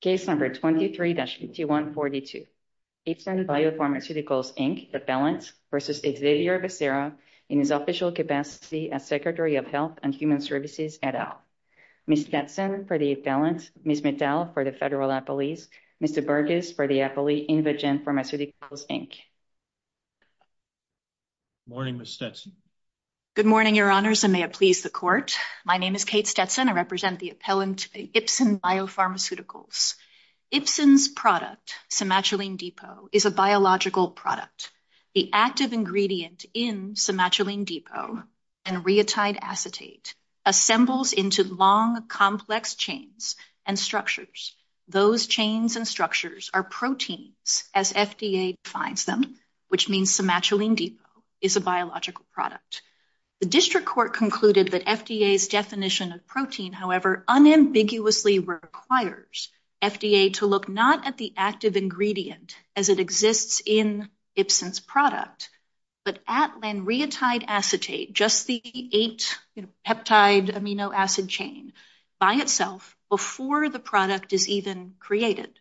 Case number 23-5142. Ipsen Biopharmaceuticals, Inc. appellant versus Xavier Becerra in his official capacity as Secretary of Health and Human Services et al. Ms. Stetson for the appellant, Ms. Mittal for the federal appellees, Mr. Burgess for the appellee in Virginia Pharmaceuticals, Inc. Good morning, Ms. Stetson. Good morning, your honors, and may it please the court. My name is Kate Stetson. I represent the appellant, Ipsen Biopharmaceuticals. Ipsen's product, Somatulene Depot, is a biological product. The active ingredient in Somatulene Depot, anuretide acetate, assembles into long, complex chains and structures. Those chains and structures are proteins, as FDA defines them, which means Somatulene Depot is a biological product. The district court concluded that FDA's definition of protein, however, unambiguously requires FDA to look not at the active ingredient as it exists in Ipsen's product, but at anuretide acetate, just the eight peptide amino acid chain by itself before the product is even created.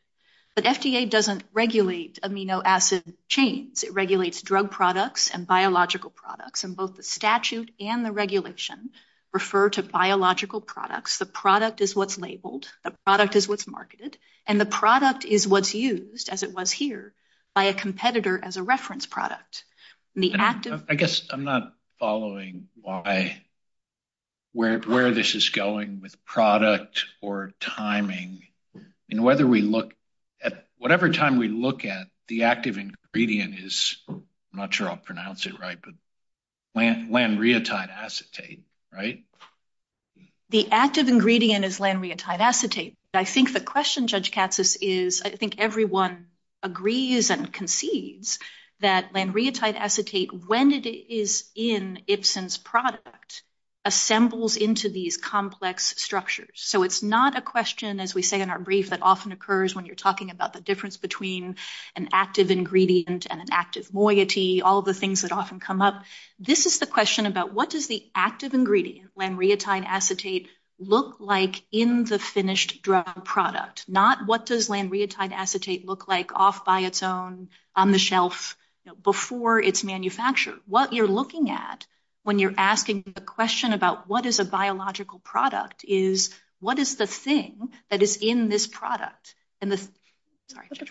But FDA doesn't regulate amino acid chains. It regulates drug products and biological products in both the statute and the regulation refer to biological products. The product is what's labeled, the product is what's marketed, and the product is what's used, as it was here, by a competitor as a reference product. I guess I'm not following why, where this is going with product or timing, and whether we look at, whatever time we look at, the active ingredient is, I'm not sure I'll pronounce it right, but lanreotide acetate, right? The active ingredient is lanreotide acetate. I think the question, Judge Katsas, is, I think everyone agrees and concedes that lanreotide acetate, when it is in Ipsen's product, assembles into these complex structures. So it's not a question, as we say in our brief, that often occurs when you're talking about the difference between an active ingredient and an active moiety, all the things that often come up. This is the question about what does the active ingredient, lanreotide acetate, look like in the finished drug product, not what does lanreotide acetate look like off by its own, on the shelf, before it's manufactured. What you're looking at when you're asking the question about what is a biological product is, what is the thing that is in this product? And the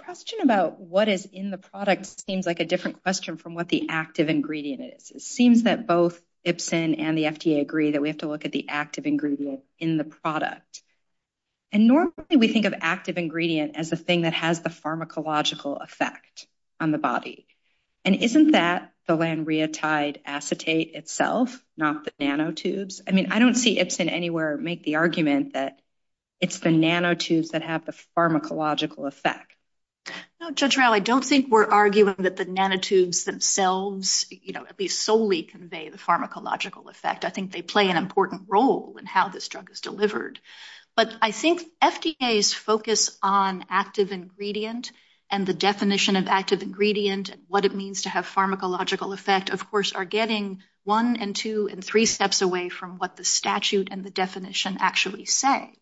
question about what is in the product seems like a different question from what the active ingredient is. It seems that both Ipsen and the FDA agree that we have to look at the active ingredient in the product. And normally we think of active ingredient as a thing that has the pharmacological effect on the body. And isn't that the lanreotide acetate itself, not the nanotubes? I mean, I don't see Ipsen anywhere make the argument that it's the nanotubes that have the pharmacological effect. No, Judge Rowell, I don't think we're arguing that the nanotubes themselves, you know, at least solely convey the pharmacological effect. I think they play an important role in how this drug is delivered. But I think FDA's focus on active ingredient and the definition of active ingredient and what it means to have pharmacological effect, of course, are getting one and two and three steps away from what the statute and the definition actually say.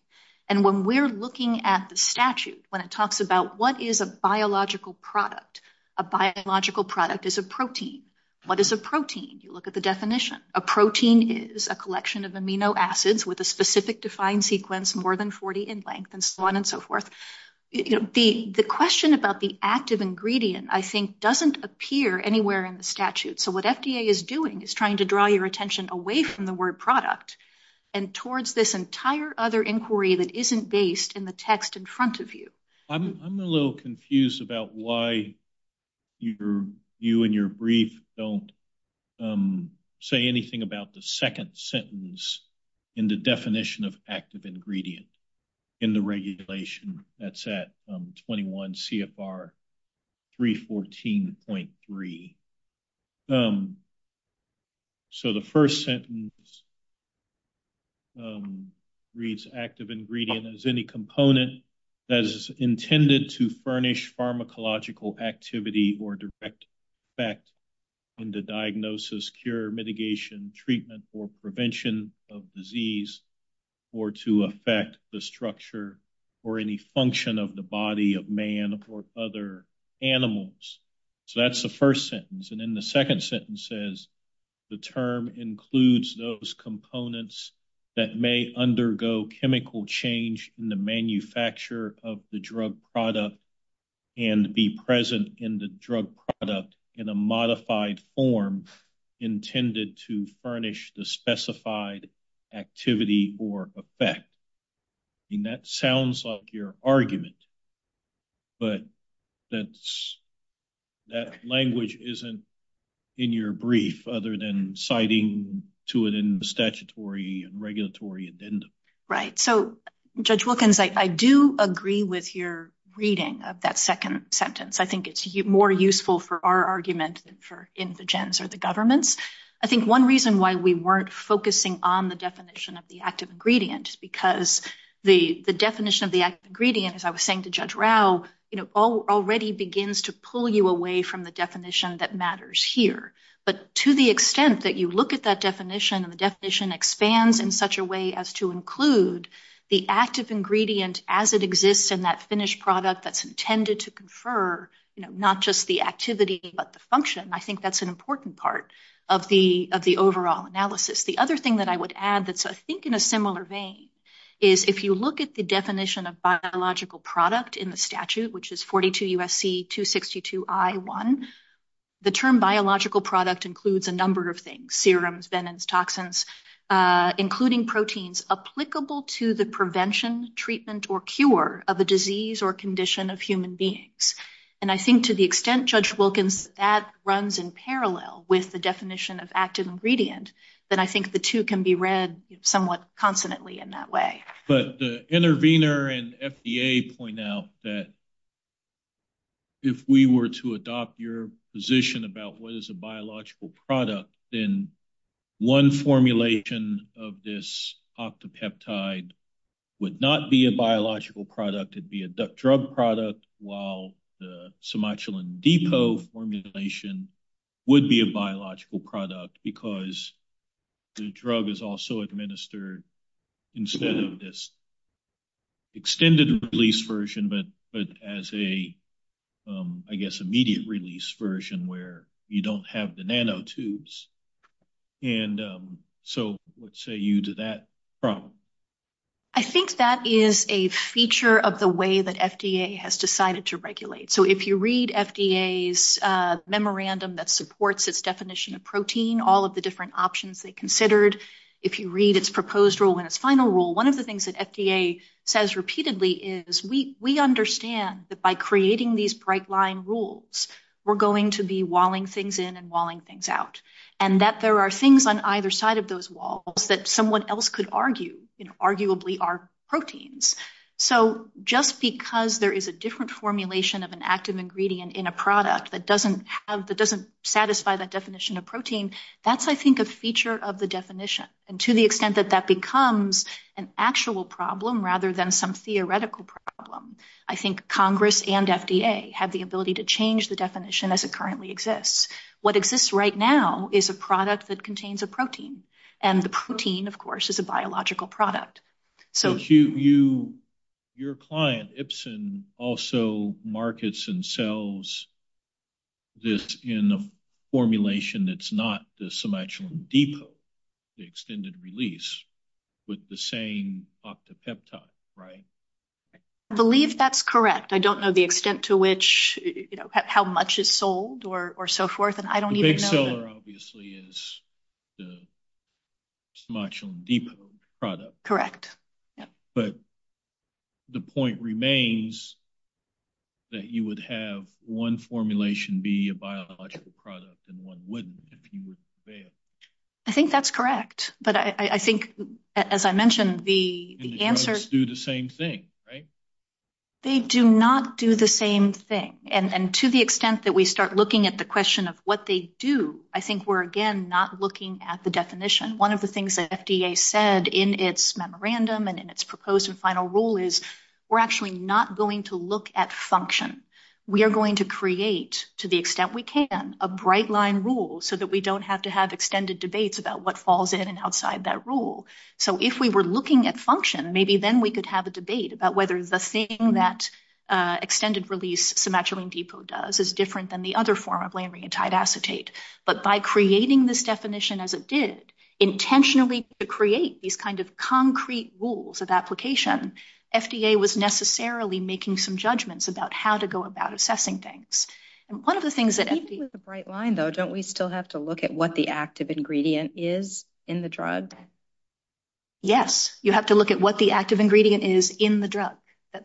And when we're looking at the statute, when it talks about what is a biological product, a biological product is a protein. What is a protein? You look at the definition. A protein is a collection of amino acids with a specific defined sequence more than 40 in length and so on and so forth. The question about the active ingredient, I think, doesn't appear anywhere in the statute. So what FDA is doing is trying to draw your attention away from the word product and towards this entire other inquiry that isn't based in the text in front of you. I'm a little confused about why you and your brief don't say anything about the second sentence in the definition of active ingredient in the regulation that's at 21 CFR 314.3. So the first sentence reads active ingredient as any component that is intended to furnish pharmacological activity or direct effect in the diagnosis, cure, mitigation, treatment, or prevention of disease or to affect the structure or any function of the body of man or other animals. So that's the first sentence. And then the second sentence says the term includes those components that may undergo chemical change in the manufacture of the drug product and be present in the drug product in a modified form intended to furnish the specified activity or effect. And that sounds like your argument, but that language isn't in your brief other than citing to it in the statutory and regulatory addendum. Right. So Judge Wilkins, I do agree with your reading of that second sentence. I think it's more useful for our argument for indigents or the governments. I think one reason why we weren't focusing on the definition of the active ingredient, because the definition of the active ingredient, as I was saying to Judge Rao, already begins to pull you away from the definition that matters here. But to the extent that you look at that definition and the definition expands in to include the active ingredient as it exists in that finished product that's intended to confer, you know, not just the activity but the function. I think that's an important part of the overall analysis. The other thing that I would add that's I think in a similar vein is if you look at the definition of biological product in the statute, which is 42 U.S.C. 262 I.1, the term biological product includes a number of things, serums, venoms, toxins, including proteins applicable to the prevention, treatment, or cure of a disease or condition of human beings. And I think to the extent, Judge Wilkins, that runs in parallel with the definition of active ingredient, then I think the two can be read somewhat consonantly in that way. But the intervener and FDA point out that if we were to adopt your position about what is biological product, then one formulation of this octopeptide would not be a biological product. It would be a drug product while the Somatulin depot formulation would be a biological product because the drug is also administered instead of this extended release version but as a, I guess, immediate release version where you don't have the nanotubes. And so, let's say you do that problem. I think that is a feature of the way that FDA has decided to regulate. So, if you read FDA's memorandum that supports its definition of protein, all of the different options they considered, if you read its proposed rule and its final rule, one of the things that FDA says repeatedly is we understand that by creating these bright line rules, we're going to be walling things in and walling things out. And that there are things on either side of those walls that someone else could argue, you know, arguably are proteins. So, just because there is a different formulation of an active ingredient in a product that doesn't have, that doesn't satisfy that definition of protein, that's, I think, a feature of the definition. And to the extent that that becomes an actual problem rather than some theoretical problem, I think Congress and FDA have the ability to change the definition as it currently exists. What exists right now is a product that contains a protein. And the protein, of course, is a biological product. So, if you, your client, Ibsen, also markets and sells this in a formulation that's not the Cemention Depot, the extended release, with the same octapeptide, right? I believe that's correct. I don't know the extent to which, you know, how much is sold, or so forth, and I don't even know. The big seller, obviously, is the Cemention Depot product. Correct. But the point remains that you would have one formulation be a biological product and one extended release. That's correct. But I think, as I mentioned, the answer is… And they both do the same thing, right? They do not do the same thing. And to the extent that we start looking at the question of what they do, I think we're, again, not looking at the definition. One of the things that FDA said in its memorandum and in its proposed and final rule is we're actually not going to look at function. We are going to create, to the extent we can, a bright-line rule so that we don't have to have extended debates about what falls in and outside that rule. So, if we were looking at function, maybe then we could have a debate about whether the thing that extended release Cemention Depot does is different than the other form of laminated acetate. But by creating this definition as it did, intentionally to create these kinds of concrete rules of application, FDA was necessarily making some judgments about how to go about assessing things. And one of the things that… Even with a bright line, though, don't we still have to look at what the active ingredient is in the drug? Yes, you have to look at what the active ingredient is in the drug.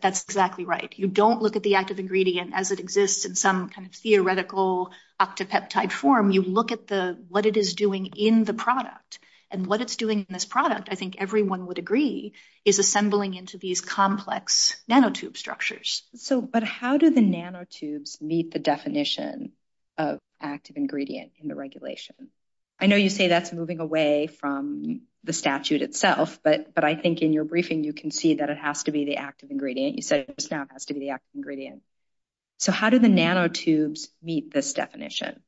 That's exactly right. You don't look at the active ingredient as it exists in some kind of theoretical octopeptide form. You look at what it is doing in the product. And what it's doing in this product, I think everyone would agree, is assembling into these nanotubes meet the definition of active ingredient in the regulation? I know you say that's moving away from the statute itself, but I think in your briefing you can see that it has to be the active ingredient. You said it just now has to be the active ingredient. So, how do the nanotubes meet this definition?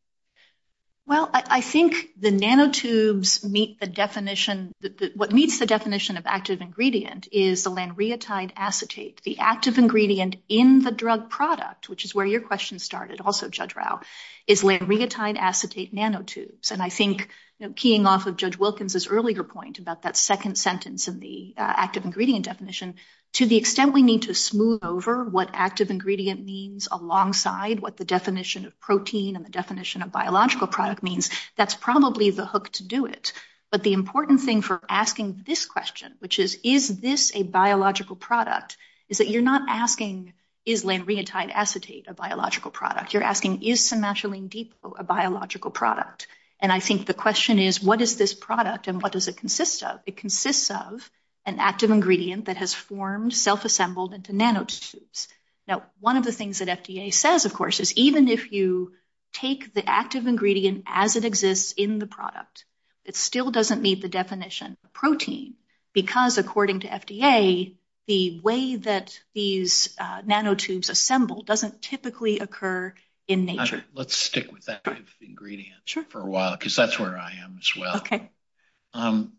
Well, I think the nanotubes meet the definition… What meets the definition of active ingredient is the lanreotide acetate. The active ingredient in the drug product, which is where your question started also, Judge Rao, is lanreotide acetate nanotubes. And I think keying off of Judge Wilkins' earlier point about that second sentence in the active ingredient definition, to the extent we need to smooth over what active ingredient means alongside what the definition of protein and the definition of biological product means, that's probably the hook to do it. But the important thing for asking this question, which is, is this a biological product, is that you're not asking, is lanreotide acetate a biological product? You're asking, is somatolene dipo a biological product? And I think the question is, what is this product and what does it consist of? It consists of an active ingredient that has formed, self-assembled into nanotubes. Now, one of the things that FDA says, of course, is even if you take the active ingredient as it exists in the product, it still doesn't meet the definition of protein, because according to FDA, the way that these nanotubes assemble doesn't typically occur in nature. Let's stick with that ingredient for a while, because that's where I am as well.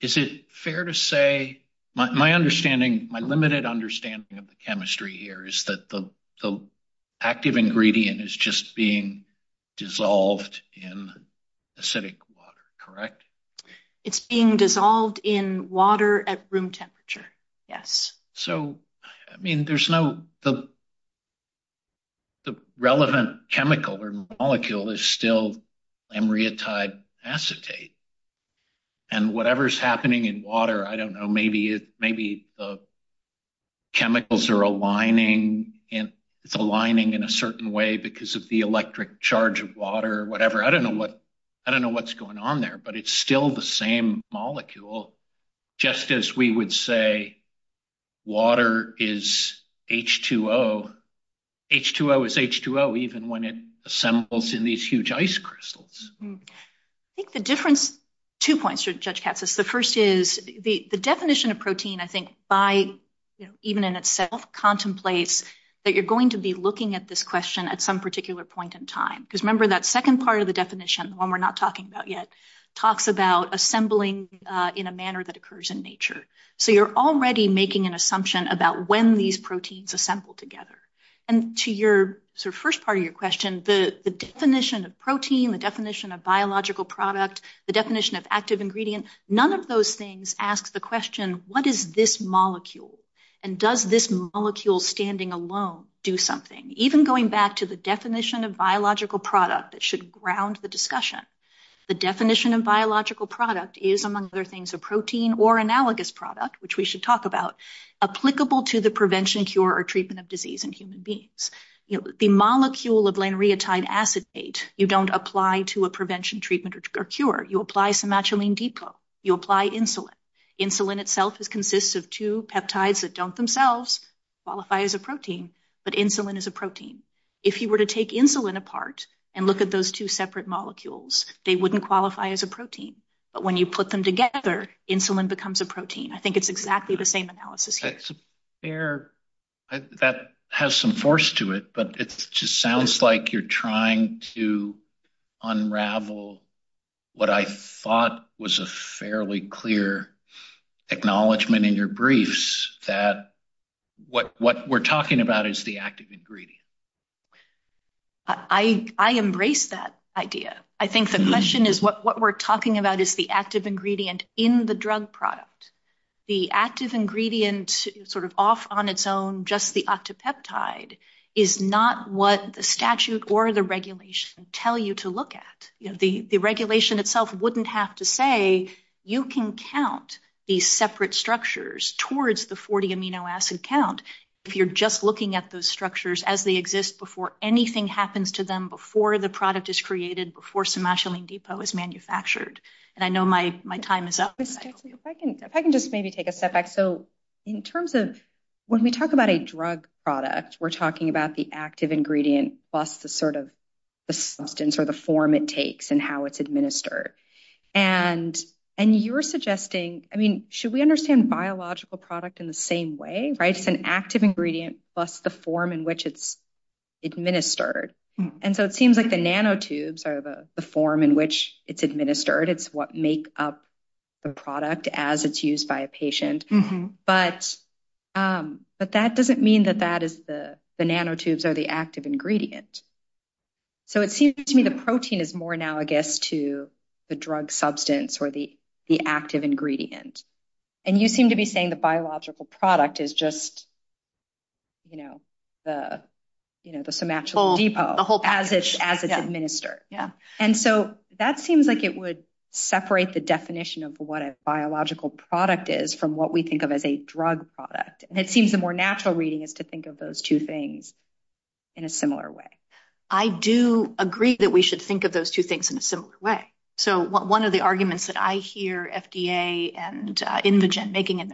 Is it fair to say, my understanding, my limited understanding of the chemistry here is that the active ingredient is just being dissolved in acidic water, correct? It's being dissolved in water at room temperature, yes. So, I mean, there's no, the relevant chemical or molecule is still lanreotide acetate. And whatever's happening in water, I don't know, maybe the chemicals are aligning and aligning in a certain way because of the electric charge of water or whatever. I don't know what's going on there, but it's still the same molecule, just as we would say, water is H2O. H2O is H2O, even when it assembles in these huge ice crystals. I think the difference, two points, Judge Katsas. The first is the definition of protein, I think, by, even in itself, contemplates that you're going to be looking at this question at some particular point in time. Because remember that second part of the definition, one we're not talking about yet, talks about assembling in a manner that occurs in nature. So you're already making an assumption about when these proteins assemble together. And to your first part of your question, the definition of protein, the definition of biological product, the definition of active ingredient, none of those things ask the question, what is this molecule? And does this molecule standing alone do something? Even going back to the definition of biological product, it should ground the discussion. The definition of biological product is among other things, a protein or analogous product, which we should talk about, applicable to the prevention, cure or treatment of disease in human beings. The molecule of lanreotide acetate, you don't apply to a prevention, treatment or cure. You apply somatolene depot. You apply insulin. Insulin itself consists of two peptides that don't themselves qualify as a protein, but insulin is a protein. If you were to take insulin apart and look at those two separate molecules, they wouldn't qualify as a protein. But when you put them together, insulin becomes a protein. I think it's exactly the same analysis. That has some force to it, but it just sounds like you're trying to unravel what I thought was a fairly clear acknowledgement in your briefs that what we're talking about is the active ingredient. I embrace that idea. I think the question is what we're talking about is the active ingredient in the drug product. The active ingredient sort of off on its own, just the octopeptide is not what the statute or the regulations tell you to look at. The regulation itself wouldn't have to say you can count these separate structures towards the 40 amino acid count if you're just looking at those structures as they exist before anything happens to them, before the product is created, before somatolene depot is manufactured. I know my time is up. If I can just maybe take a step back. When we talk about a drug product, we're talking about the active ingredient plus the substance or the form it takes and how it's administered. Should we understand biological product in the same way? It's an active ingredient plus the form in which it's administered. It seems like the nanotubes are the form in which it's administered. It's what make up the product as it's used by a patient, but that doesn't mean that that is the nanotubes or the active ingredient. It seems to me the protein is more analogous to the drug substance or the active ingredient. You seem to be saying the biological product is just the somatolene depot as it's administered. That seems like it would separate the definition of what a biological product is from what we think of as a drug product. It seems the more natural reading is to think of those two things in a similar way. I do agree that we should think of those two things in a similar way. One of the arguments that I hear FDA and Indigen making in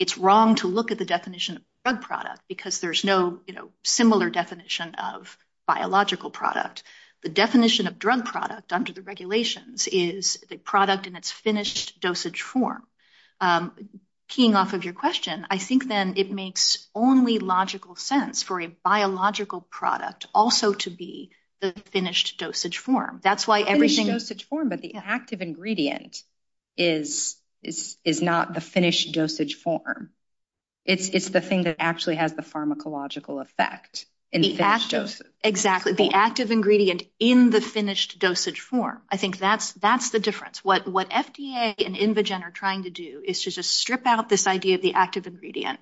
it's wrong to look at the definition of drug product because there's no similar definition of biological product. The definition of drug product under the regulations is the product in its finished dosage form. Keying off of your question, I think then it makes only logical sense for a biological product also to be the finished dosage form. The finished dosage form, but the active ingredient is not the finished dosage form. It's the thing that actually has the pharmacological effect. The active ingredient in the finished dosage form. I think that's the difference. What FDA and Indigen are trying to do is to just strip out this idea of the active ingredient,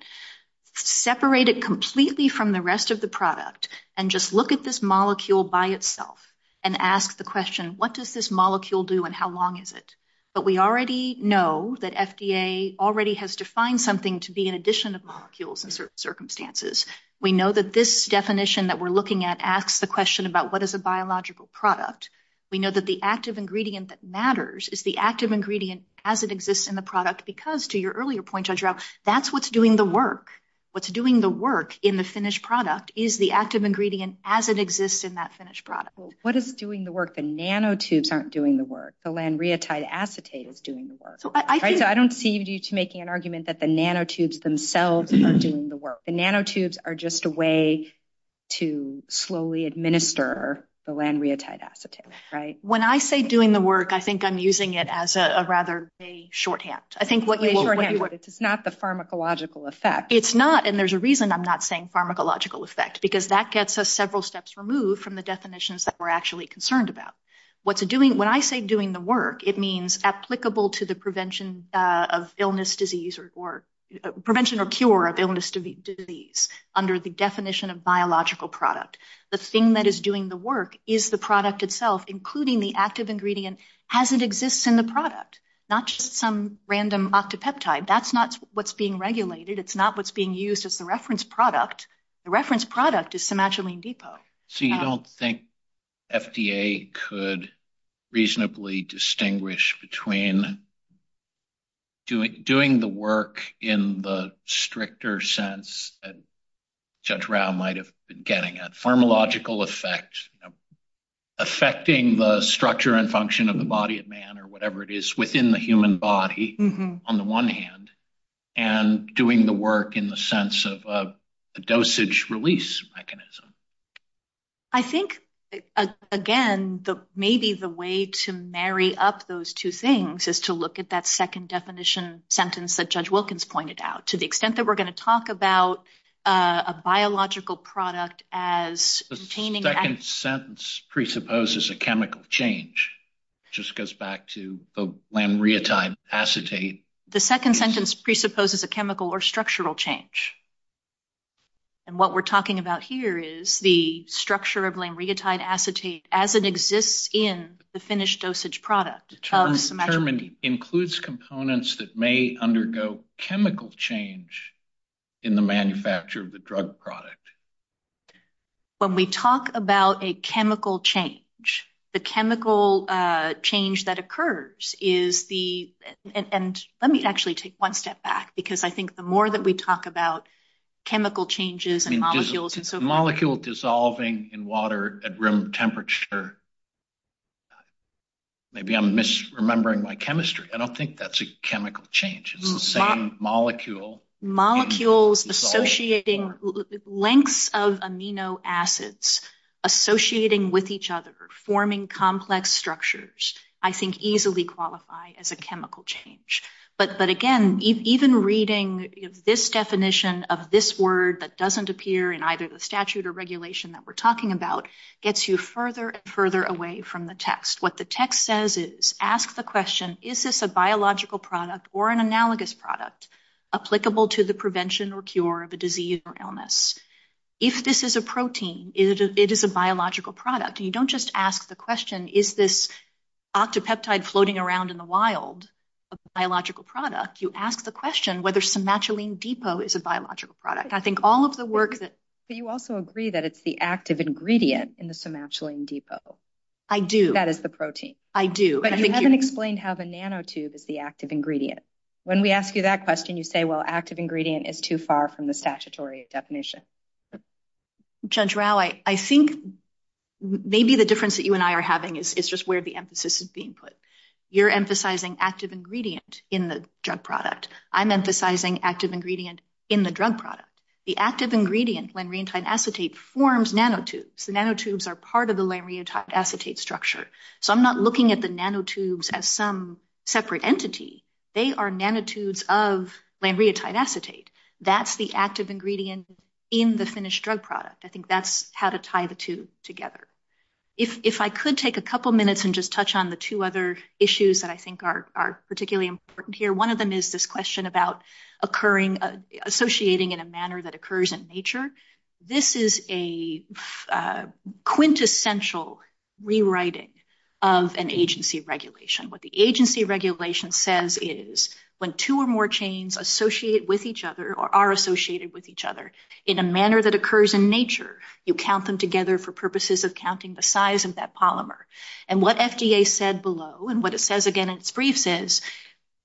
separate it completely from the rest of the product, and just look at this molecule by itself and ask the question, what does this molecule do and how long is it? But we already know that FDA already has defined something to be an addition of molecules in certain circumstances. We know that this definition that we're looking at asks the question about what is a biological product. We know that the active ingredient that matters is the active ingredient as it exists in the product because to your earlier point, that's what's doing the work. What's doing the work in a finished product is the active ingredient as it exists in that finished product. What is doing the work? The nanotubes aren't doing the work. The lanreotide acetate is doing the work. I don't see you making an argument that the nanotubes themselves are doing the work. The nanotubes are just a way to slowly administer the lanreotide acetate, right? When I say doing the work, I think I'm using it as a rather a shorthand. A shorthand. It's not the pharmacological effect. There's a reason I'm not saying pharmacological effect because that gets us several steps removed from the definitions that we're actually concerned about. When I say doing the work, it means applicable to the prevention or cure of illness disease under the definition of biological product. The thing that is doing the work is the product itself, including the active ingredient as it exists in the product, not just some random octopeptide. That's not what's being regulated. It's not what's being used as the reference product. The reference product is somatolene depot. You don't think FDA could reasonably distinguish between doing the work in the stricter sense that Judge Rao might have been getting, a pharmacological effect affecting the structure and function of the body of man or whatever it is within the human body on the one hand, and doing the work in the sense of a dosage release mechanism. I think, again, maybe the way to marry up those two things is to look at that second definition sentence that Judge Wilkins pointed out. To the extent that we're going to talk about a biological product as... The second sentence presupposes a chemical change. It just goes back to the lamreotide acetate. The second sentence presupposes a chemical or structural change. What we're talking about here is the structure of lamreotide acetate as it exists in the finished dosage product. The term includes components that may undergo chemical change in the manufacture of the drug product. When we talk about a chemical change, the chemical change that occurs is the... Let me actually take one step back, because I think the more that we talk about chemical changes and molecules and so forth... Molecule dissolving in water at room temperature. Maybe I'm misremembering my chemistry. I don't think that's a chemical change. It's the same molecule. Molecules associating lengths of amino acids associating with each other, forming complex structures, I think easily qualify as a chemical change. But again, even reading this definition of this word that doesn't appear in either the statute or regulation that we're talking about gets you further and further away from the text. What the text says is, ask the question, is this a biological product or an analogous product applicable to the prevention or cure of a disease or illness? If this is a protein, it is a biological product. You don't just ask the question, is this octopeptide floating around in the wild a biological product? You ask the question whether somatulene depot is a biological product. I think all of the work that... But you also agree that it's the active ingredient in the somatulene depot. I do. That is the protein. I do. But you haven't explained how the nanotube is the active ingredient. When we ask you that question, you say, well, active ingredient is too far from the statutory definition. Judge Rao, I think maybe the difference that you and I are having is just where the emphasis is being put. You're emphasizing active ingredient in the drug product. I'm emphasizing active ingredient in the drug product. The active ingredient, lanreotide acetate, forms nanotubes. The nanotubes are part of the lanreotide acetate structure. I'm not looking at the nanotubes as some separate entity. They are nanotubes of lanreotide acetate. That's the active ingredient in the finished drug product. I think that's how to tie the two together. If I could take a couple of minutes and just touch on the two other issues that I think are particularly important here. One of them is this question about associating in a manner that occurs in nature. This is a quintessential rewriting of an agency regulation. What the agency regulation says is when two or more chains associate with each other or are associated with each other in a manner that occurs in nature, you count them together for purposes of counting the size of that polymer. What FDA said below, and what it says again in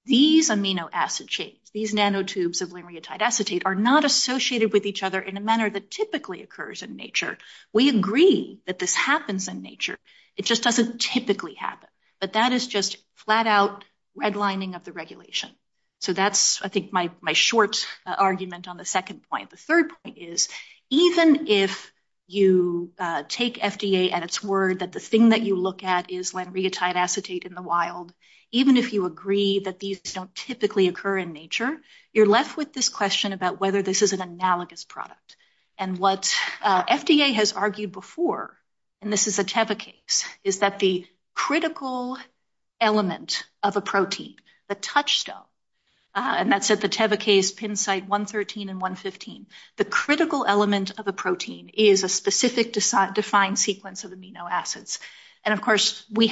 these amino acid chains, these nanotubes of lanreotide acetate are not associated with each other in a manner that typically occurs in nature. We agree that this happens in nature. It just doesn't typically happen. But that is just flat out redlining of the regulation. So that's, I think, my short argument on the second point. The third point is even if you take FDA at its word that the thing that you look at is lanreotide acetate in the wild, even if you agree that these don't typically occur in nature, you're left with this question about whether this is an analogous product. And what FDA has argued before, and this is a Teva case, is that the critical element of a protein, the touchstone, and that's at the Teva case, pin site 113 and 115, the critical element of a protein is a specific defined sequence of amino acids. But now, of course, what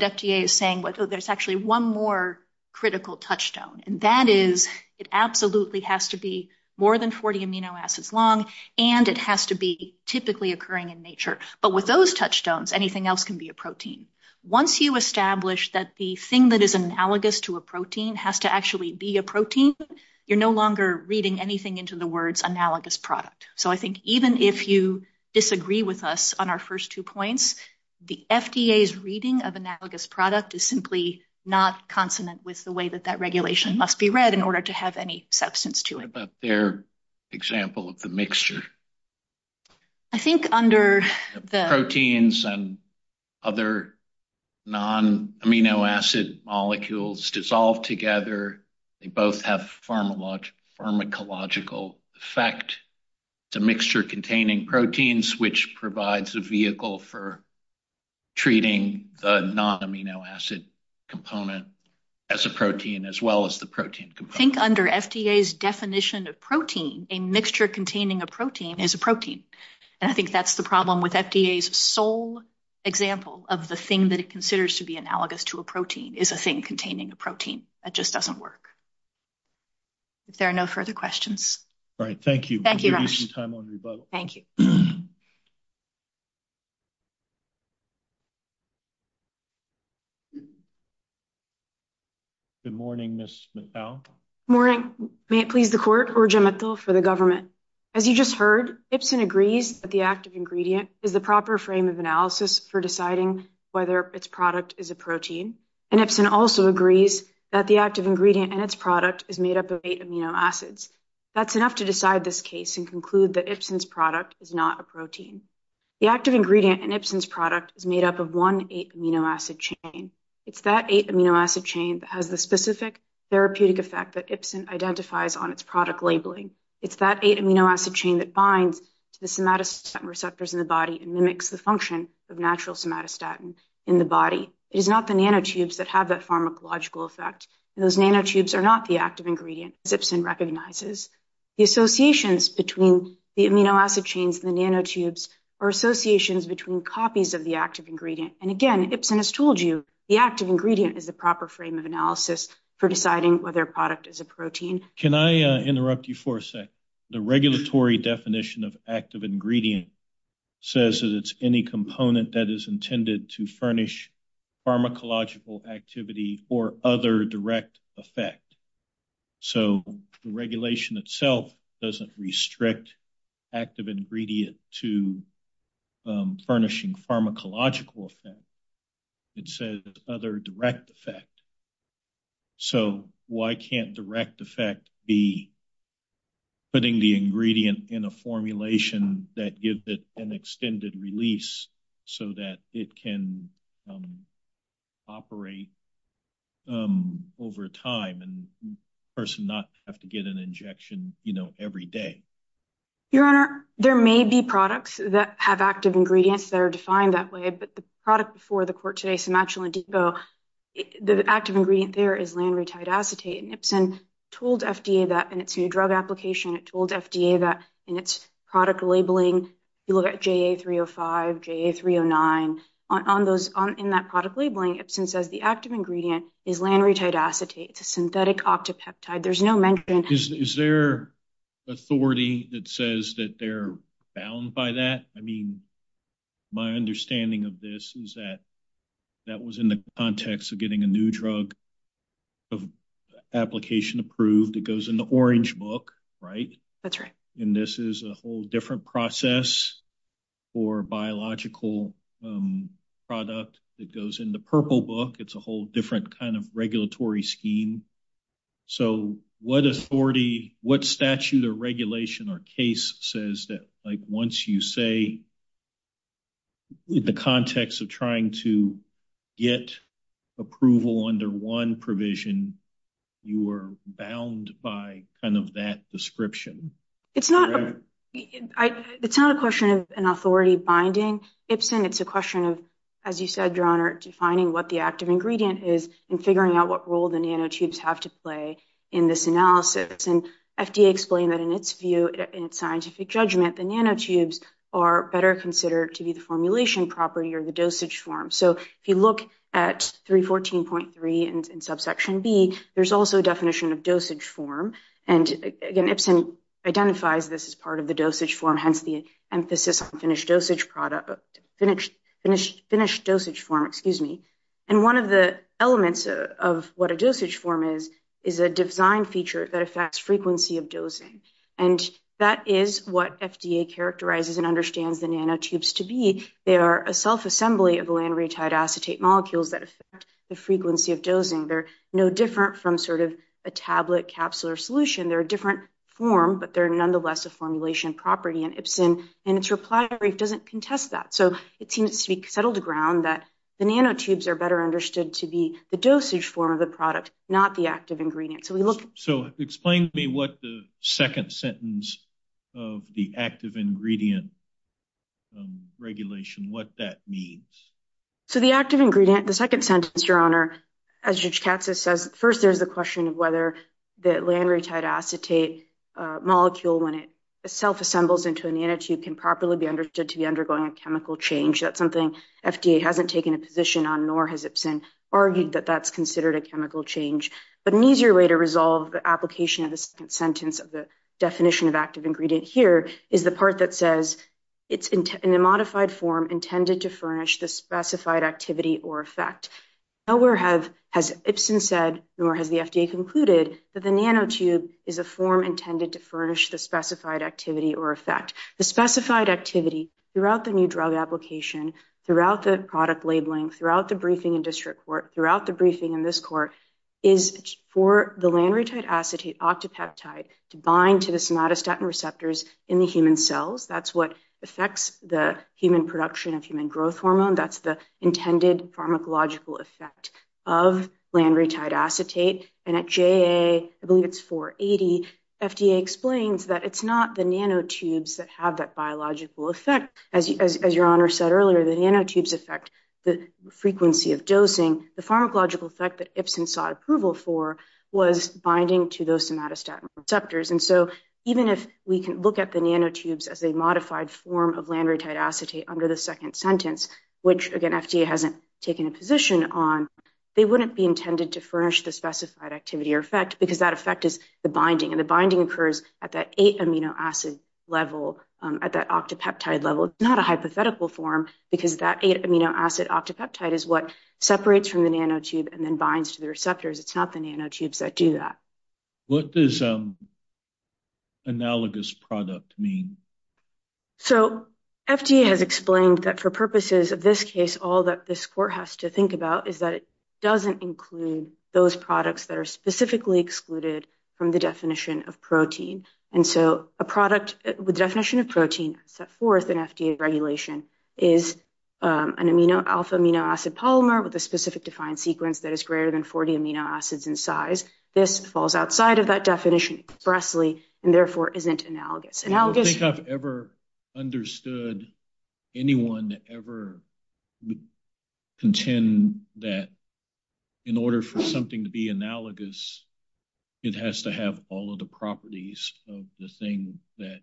FDA is saying is there's actually one more critical touchstone, and that is it absolutely has to be more than 40 amino acids long, and it has to be typically occurring in nature. But with those touchstones, anything else can be a protein. Once you establish that the thing that is analogous to a protein has to actually be a protein, you're no longer reading anything into the words analogous product. So I think even if you disagree with us on our first two points, the FDA's reading of analogous product is simply not consonant with the way that that regulation must be read in order to have any substance to it. What about their example of the mixture? I think under the... Proteins and other non-amino acid molecules dissolve together. They both have pharmacological effect to mixture-containing proteins, which provides a vehicle for treating the non-amino acid component as a protein, as well as the protein component. I think under FDA's definition of protein, a mixture containing a protein is a protein. And I think that's the problem with FDA's sole example of the thing that it considers to be analogous to a protein is a thing containing a protein. That just doesn't work. If there is a non-amino acid component to a protein, it's a non-amino acid component to a protein. Thank you. Good morning, Ms. McPowell. Morning. May it please the court, Urja Mithal for the government. As you just heard, Ipsen agrees that the active ingredient is a proper frame of analysis for deciding whether its product is a protein. And Ipsen also agrees that the active ingredient and its product is made up of eight amino acids. That's enough to decide this case and conclude that Ipsen's product is not a protein. The active ingredient in Ipsen's product is made up of one eight-amino acid chain. It's that eight-amino acid chain that has the specific therapeutic effect that Ipsen identifies on its product labeling. It's that eight-amino acid chain that binds to the somatostatin receptors in the body and mimics the function of natural somatostatin in the body. It is not the nanotubes that have that pharmacological effect. Those nanotubes are not the active ingredient that Ipsen recognizes. The associations between the amino acid chains and the nanotubes are associations between copies of the active ingredient. And again, Ipsen has told you the active ingredient is the proper frame of analysis for deciding whether a product is a protein. Can I interrupt you for a sec? The regulatory definition of active ingredient says that it's any component that is intended to furnish pharmacological activity or other direct effect. So, the regulation itself doesn't restrict active ingredient to furnishing pharmacological effect. It says other direct effect. So, why can't direct effect be putting the ingredient in a formulation that gives it an extended release so that it can operate over time and the person not have to get an injection, you know, every day? Your Honor, there may be products that have active ingredients that are defined that way, but the product before the corte simatulangico, the active ingredient there is langretide acetate. Ipsen told FDA that in its new drug application, it told FDA that in its product labeling, you look at JA305, JA309. On those, in that product labeling, Ipsen says the active ingredient is langretide acetate, a synthetic octopeptide. There's no mention. Is there authority that says that they're bound by that? I mean, my understanding of this is that was in the context of getting a new drug application approved. It goes in the orange book, right? That's right. And this is a whole different process for biological product that goes in the purple book. It's a whole different kind of regulatory scheme. So, what authority, what statute or regulation or case says that, like, once you say the context of trying to get approval under one provision, you are bound by kind of that description? It's not a question of an authority binding. Ipsen, it's a question of, as you said, Your Honor, defining what the active ingredient is and figuring out what role the nanotubes have to play in this analysis. And FDA explained that in its view, in its scientific judgment, the nanotubes are better considered to be the formulation property or the dosage form. So, if you look at 314.3 in subsection B, there's also a definition of dosage form. And again, Ipsen identifies this as part of the dosage form, hence the emphasis on finished dosage product, finished dosage form, excuse me. And one of the elements of what a dosage form is, is a design feature that affects frequency of dosing. And that is what FDA characterizes and understands the nanotubes to be. They are a self-assembly of lanretide acetate molecules that affect the frequency of dosing. They're no different from sort of a tablet capsule or solution. They're a different form, but they're nonetheless a formulation property. And Ipsen, in its reply, doesn't contest that. So, it seems to settle the ground that the nanotubes are better understood to be the dosage form of the product, not the active ingredient. So, we will... So, explain to me what the second sentence of the active ingredient regulation, what that means. So, the active ingredient, the second sentence, Your Honor, as Judge Taxis says, first, there's the question of whether the lanretide acetate molecule, when it self-assembles into a nanotube, can properly be understood to be undergoing a chemical change. That's something FDA hasn't taken a position on, nor has Ipsen argued that that's considered a chemical change. But an easier way to resolve the application of this sentence of the definition of active ingredient here is the part that says, it's in a modified form intended to furnish the specified activity or effect. Nowhere has Ipsen said, nor has the FDA concluded, that the nanotube is a form intended to furnish the specified activity or effect. The specified activity throughout the new drug application, throughout the product labeling, throughout the briefing in district court, throughout the briefing in this court, is for the lanretide acetate octopeptide to bind to the somatostatin receptors in the human cells. That's what affects the human production of human growth hormone. That's the intended pharmacological effect of lanretide acetate. And at JA, I believe it's 480, FDA explains that it's not the nanotubes that have that biological effect. As your honor said earlier, the nanotubes affect the frequency of dosing. The pharmacological effect that Ipsen sought approval for was binding to those somatostatin receptors. And so even if we can look at the nanotubes as a modified form of lanretide acetate under the second sentence, which again FDA hasn't taken a position on, they wouldn't be intended to furnish the specified activity or effect because that effect is the binding. And the binding occurs at that eight amino acid level, at that octopeptide level. It's not a hypothetical form because that eight amino acid octopeptide is what separates from the nanotube and then binds to the receptors. It's not the nanotubes that do that. What does analogous product mean? So FDA has explained that for purposes of this case, all that this court has to think about is that it doesn't include those products that are specifically excluded from the definition of protein. And so a product with definition of protein set forth in FDA regulation is an alpha amino acid polymer with a specific defined sequence that is greater than 40 amino acids in size. This falls outside of that definition expressly and therefore isn't analogous. I don't think I've ever understood anyone to ever contend that in order for something to be analogous, it has to have all of the properties of the thing that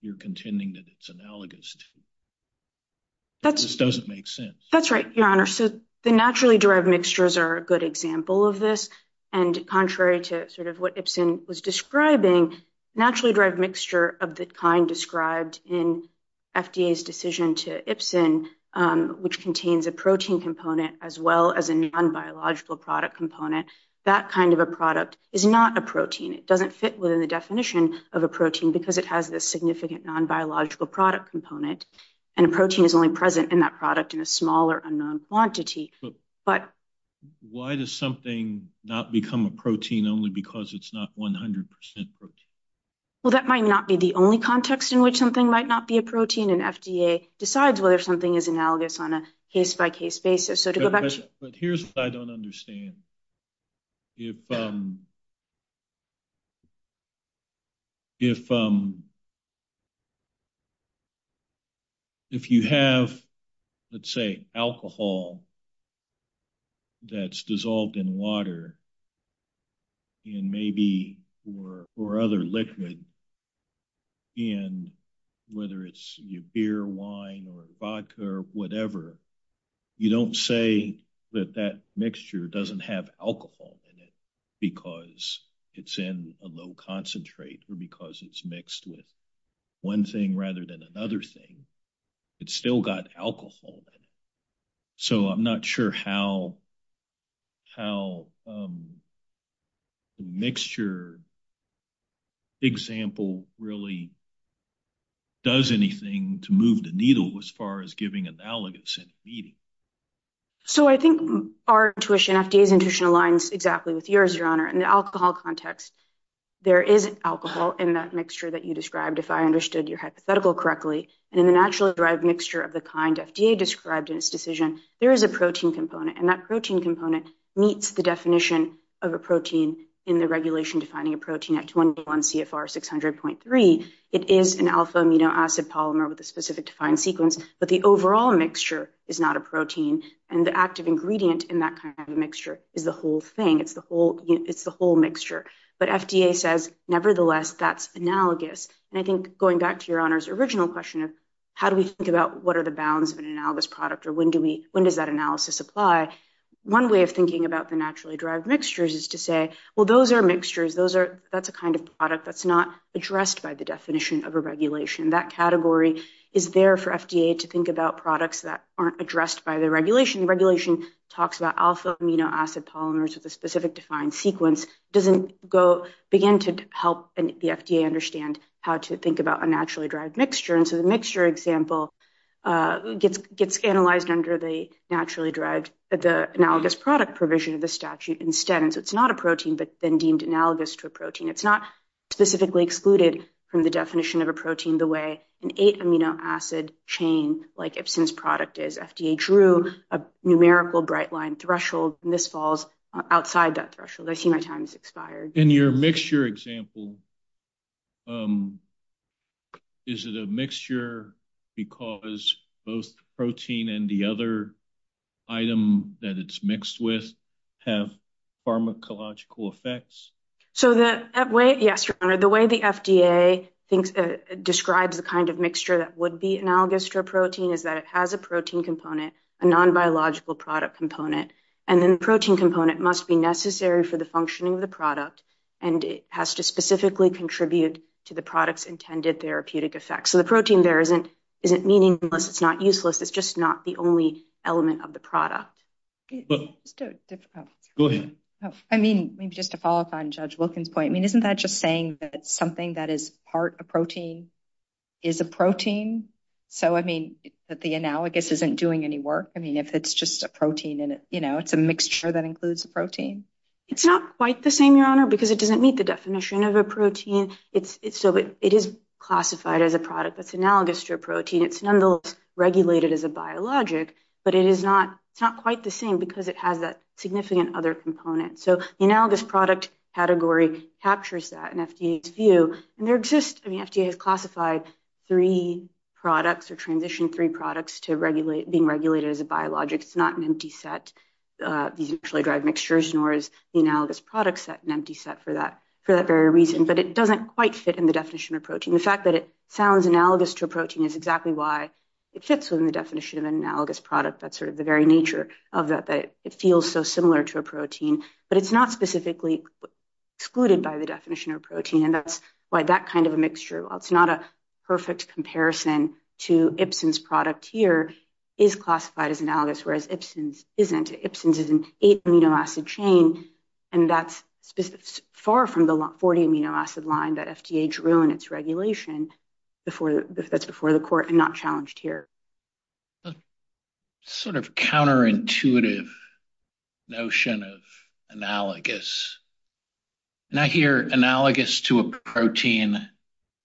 you're contending that it's analogous to. It just doesn't make sense. That's right, your honor. So the naturally derived mixtures are a good example of this. And contrary to sort of what Ibsen was describing, naturally derived mixture of the kind described in FDA's decision to Ibsen, which contains a protein component as well as a non-biological product component, that kind of a product is not a protein. It doesn't fit within the definition of a protein because it has this significant non-biological product component. And a protein is only present in that product in a smaller unknown quantity. But why does something not become a protein only because it's not 100% protein? Well, that might not be the only context in which something might not be a protein and FDA decides whether something is analogous on a case-by-case basis. But here's what I don't understand. If you have, let's say, alcohol that's dissolved in water and maybe or other liquid in whether it's beer, wine, or vodka, or whatever, you don't say that that mixture doesn't have alcohol in it because it's in a low concentrate or because it's mixed with one thing rather than another thing. It's still got alcohol in it. So I'm not sure how the mixture example really does anything to move the needle as far as giving analogous meaning. So I think our intuition, FDA's intuition, aligns exactly with yours, Your Honor. In the alcohol context, there is alcohol in that mixture that you described, if I understood your hypothetical correctly. And in the naturally derived mixture of the kind FDA described in its decision, there is a protein component. And that protein component meets the definition of a protein in the regulation defining a protein at 21 CFR 600.3. It is an alpha amino acid polymer with a specific defined sequence, but the overall mixture is not a protein. And the active ingredient in that kind of mixture is the whole thing. It's the whole mixture. But FDA says, nevertheless, that's analogous. And I think going back to Your Honor's original question, how do we think about what are the bounds of an analogous product or when does that analysis apply? One way of thinking about the naturally derived mixtures is to say, well, those are mixtures. That's a kind of product that's not addressed by the definition of a regulation. That category is there for FDA to think about products that aren't addressed by the regulation. Regulation talks about alpha amino acid polymers with a specific defined sequence. It doesn't begin to help the FDA understand how to get analyzed under the naturally derived analogous product provision of the statute. Instead, it's not a protein, but then deemed analogous to a protein. It's not specifically excluded from the definition of a protein the way an eight amino acid chain like Ipsin's product is. FDA drew a numerical bright line threshold and this falls outside that both protein and the other item that it's mixed with have pharmacological effects. So that way, yes, Your Honor, the way the FDA thinks that describes the kind of mixture that would be analogous to a protein is that it has a protein component, a non-biological product component. And then the protein component must be necessary for the functioning of the product and it has to specifically contribute to the product's intended therapeutic effects. So the it's just not the only element of the product. I mean, just to follow up on Judge Wilkin's point, I mean, isn't that just saying that something that is part of protein is a protein? So I mean, that the analogous isn't doing any work? I mean, if it's just a protein in it, you know, it's a mixture that includes a protein. It's not quite the same, Your Honor, because it doesn't meet the definition of a protein. So it is classified as a product that's analogous to a protein. It's nonetheless regulated as a biologic, but it is not quite the same because it has a significant other component. So the analogous product category captures that in FDA's view. And they're just, I mean, FDA has classified three products or transitioned three products to being regulated as a biologic. It's not an empty set, these mutually derived mixtures, nor is the analogous product set an empty set for that very reason, but it doesn't quite fit in the definition of protein. The fact that it sounds analogous to a protein is exactly why it fits within the definition of an analogous product. That's sort of the very nature of that, that it feels so similar to a protein, but it's not specifically excluded by the definition of protein. And that's why that kind of a mixture, it's not a perfect comparison to Ibsen's product here, is classified as analogous, whereas Ibsen's isn't. Ibsen's is an eight amino acid chain, and that's far from the 40 amino acid line that FDA drew in its regulation before, that's before the court and not challenged here. Sort of counterintuitive notion of analogous. Now here, analogous to a protein,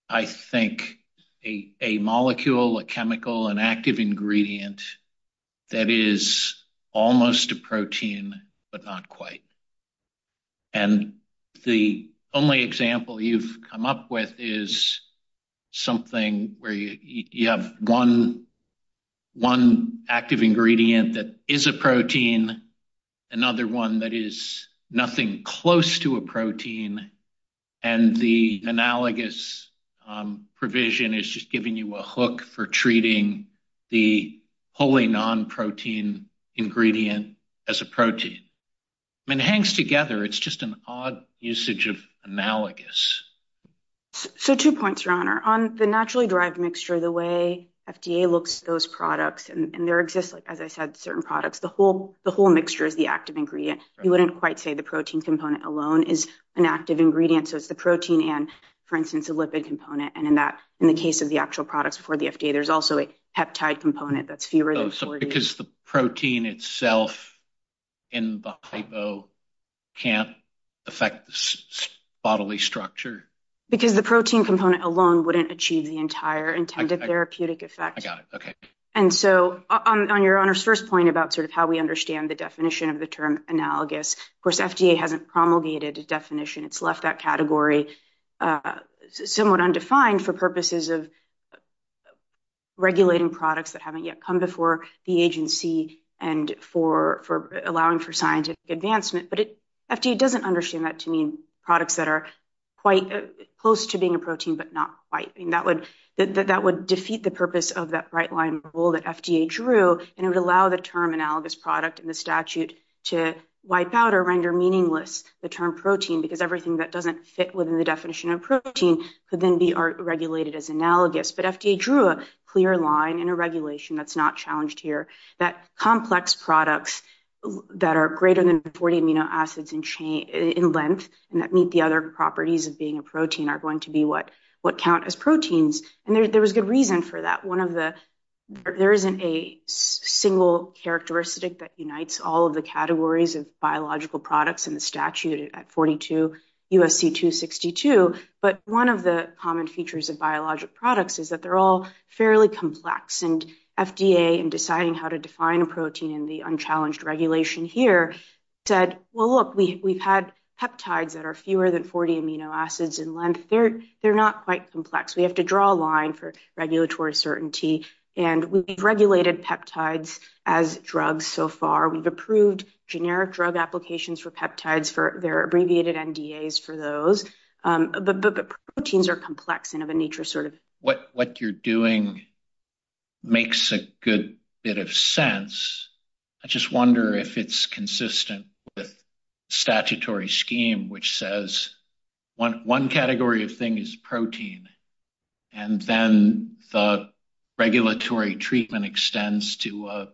I think a molecule, a chemical, an active ingredient that is almost a protein, but not quite. And the only example you've come up with is something where you have one active ingredient that is a protein, another one that is nothing close to a protein, and the analogous provision is just giving you a hook for treating the wholly non-protein ingredient as a protein. It hangs together, it's just an odd usage of analogous. So two points, Ron, on the naturally derived mixture, the way FDA looks at those products, and there exists, as I said, certain products, the whole mixture is the active ingredient. You wouldn't quite say the protein component alone is an active ingredient, so it's the protein and, for instance, a lipid component. And in that, in the case of the actual products before the FDA, there's also a peptide component that's serous. Oh, so because the protein itself in the bipo can't affect the bodily structure? Because the protein component alone wouldn't achieve the entire intended therapeutic effect. I got it, okay. And so on your honor's first point about sort of how we understand the definition of the term analogous, of course, FDA hasn't promulgated its definition. It's left that category somewhat undefined for purposes of regulating products that haven't yet come before the agency and for allowing for scientific advancement. But FDA doesn't understand that to mean products that are quite close to being a protein, but not quite. And that would defeat the purpose of that right-line rule that FDA drew, and it would allow the term analogous product in the statute to wipe out or render meaningless the term protein, because everything that doesn't fit within the definition of protein could then be regulated as analogous. But FDA drew a clear line in a regulation that's not challenged here, that complex products that are greater than 40 amino acids in length and that meet the other properties of being a protein are going to be what count as proteins. And there was good reason for that. There isn't a single characteristic that unites all of the categories of biological products in the statute at 42 U.S.C. 262, but one of the common features of biologic products is that they're all fairly complex. And FDA in deciding how to define a protein in the unchallenged regulation here said, well, look, we've had peptides that are fewer than 40 amino acids in length. They're not quite complex. We have to draw a line for regulatory certainty. And we've regulated peptides as drugs so far. We've approved generic drug applications for peptides for their abbreviated NDAs for those. But proteins are complex and of a nature sort of... What you're doing makes a good bit of sense. I just wonder if it's consistent with statutory scheme, which says one category of thing is protein, and then the regulatory treatment extends to a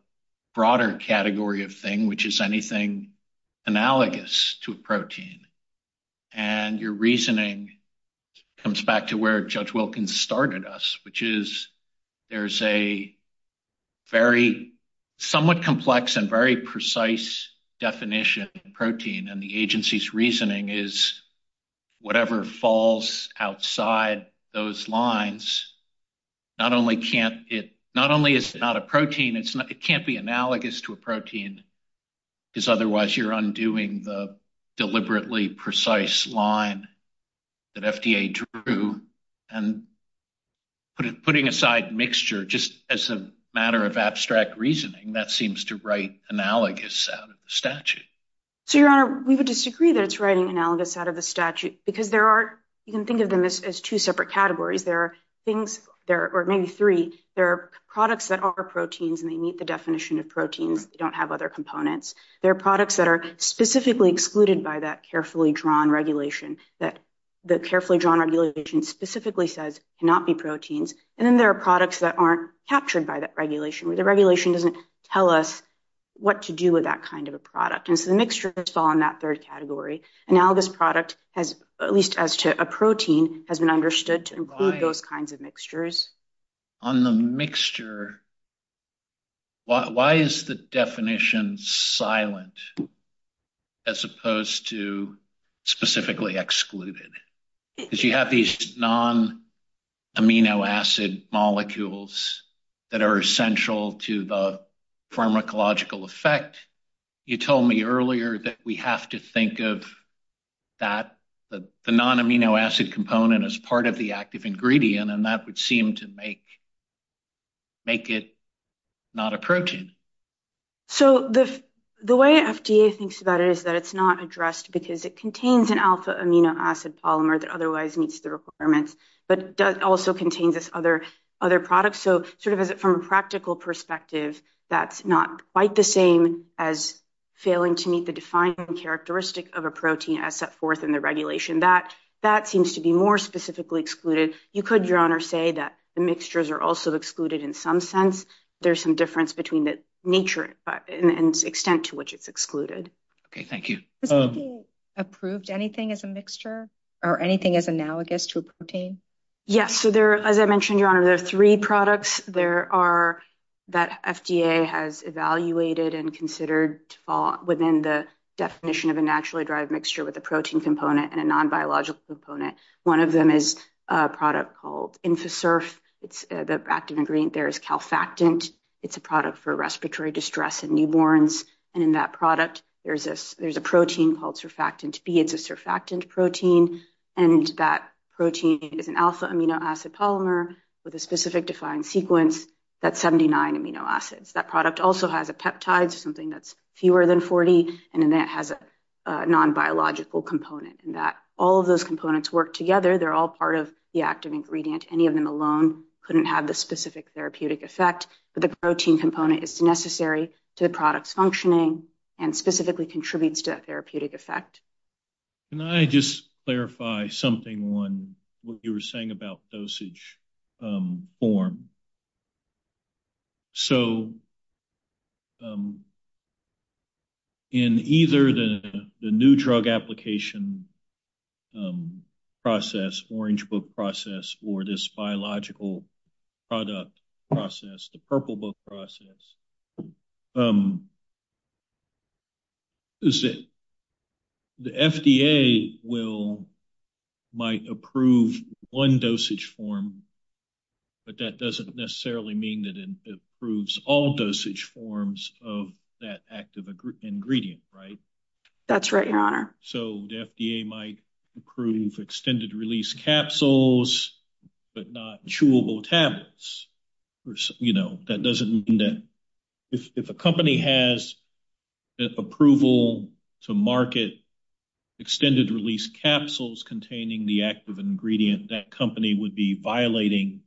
broader category of thing, which is anything analogous to a protein. And your reasoning comes back to where Judge Wilkins started us, which is there's a very somewhat complex and very precise definition of protein. And the agency's reasoning is whatever falls outside those lines, not only is it not a protein, it can't be analogous to a protein because otherwise you're undoing the deliberately precise line that FDA drew. And putting aside mixture just as a matter of abstract reasoning, that seems to write analogous out of the statute. So, Your Honor, we would disagree that it's writing analogous out of the statute because there are... You can think of them as two separate categories. There are things... Or maybe three. There are products that are proteins and they meet the definition of protein. They don't have other components. There are products that are specifically excluded by that carefully drawn regulation, that the carefully drawn regulation specifically says cannot be proteins. And then there are products that aren't captured by that regulation. The regulation doesn't tell us what to do with that kind of a product. And so the mixture is all in that third category. And now this product has, at least as to a protein, has been understood to include those kinds of mixtures. On the mixture, why is the definition silent as opposed to specifically excluded? Because you have these non-amino acid molecules that are essential to the pharmacological effect. You told me earlier that we have to think of the non-amino acid component as part of the active ingredient, and that would seem to make it not a protein. So the way FDA thinks about it is that it's not addressed because it contains an alpha amino acid polymer that otherwise meets the requirements, but does also contain this other product. So sort of from a practical perspective, that's not quite the same as failing to meet the defined characteristic of a protein as set forth in the regulation. That seems to be more specifically excluded. You could, Your Honor, say that the mixtures are also excluded in some sense. There's some difference between the nature and extent to which it's excluded. Okay. Thank you. Has the FDA approved anything as a mixture or anything as analogous to a protein? Yes. So as I mentioned, Your Honor, there are three products that FDA has evaluated and considered within the definition of a naturally derived mixture with a protein component and a non-biological component. One of them is a product called Infaserf. The active ingredient there is calfactant. It's a product for respiratory distress in newborns. And in that product, there's a protein called surfactant B. It's a surfactant protein, and that protein is an alpha amino acid polymer with a specific defined sequence that's 79 amino acids. That product also has a peptide, something that's fewer than 40, and then that has a non-biological component in that. All of those components work together. They're all part of the active ingredient. Any of them alone couldn't have the specific therapeutic effect, but the protein component is necessary to the product's functioning and specifically contributes to that therapeutic effect. Can I just clarify something on what you were saying about dosage form? So, in either the new drug application process, orange book process, or this biological product process, the purple book process, is that the FDA will, might approve one dosage form, but that doesn't necessarily mean that it approves all dosage forms of that active ingredient, right? That's right, your honor. So, the FDA might approve extended-release capsules, but not chewable tablets. You know, that doesn't mean that if a company has approval to market extended-release capsules containing the active ingredient, that company would be violating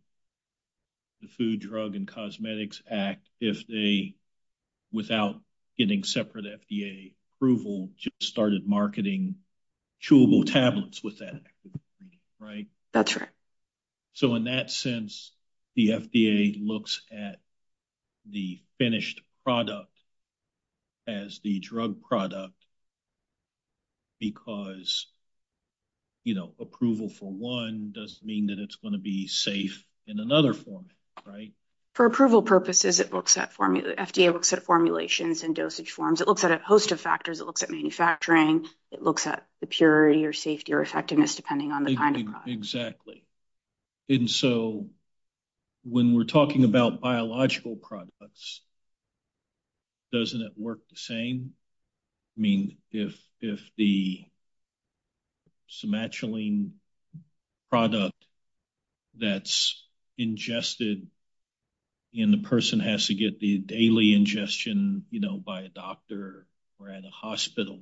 the Food, Drug, and Cosmetics Act if they, without getting separate FDA approval, just started marketing chewable tablets with that active ingredient, right? That's right. So, in that sense, the FDA looks at the finished product as the drug product because, you know, approval for one doesn't mean that it's going to be safe in another form, right? For approval purposes, it looks at formula, FDA looks at formulations and dosage forms. It looks at a host of factors. It looks at manufacturing. It looks at the purity or safety or effectiveness, depending on the kind of product. Exactly. And so, when we're talking about biological products, doesn't it work the same? I mean, if the sematuline product that's ingested and the person has to get the daily ingestion, you know, by a doctor or at a hospital,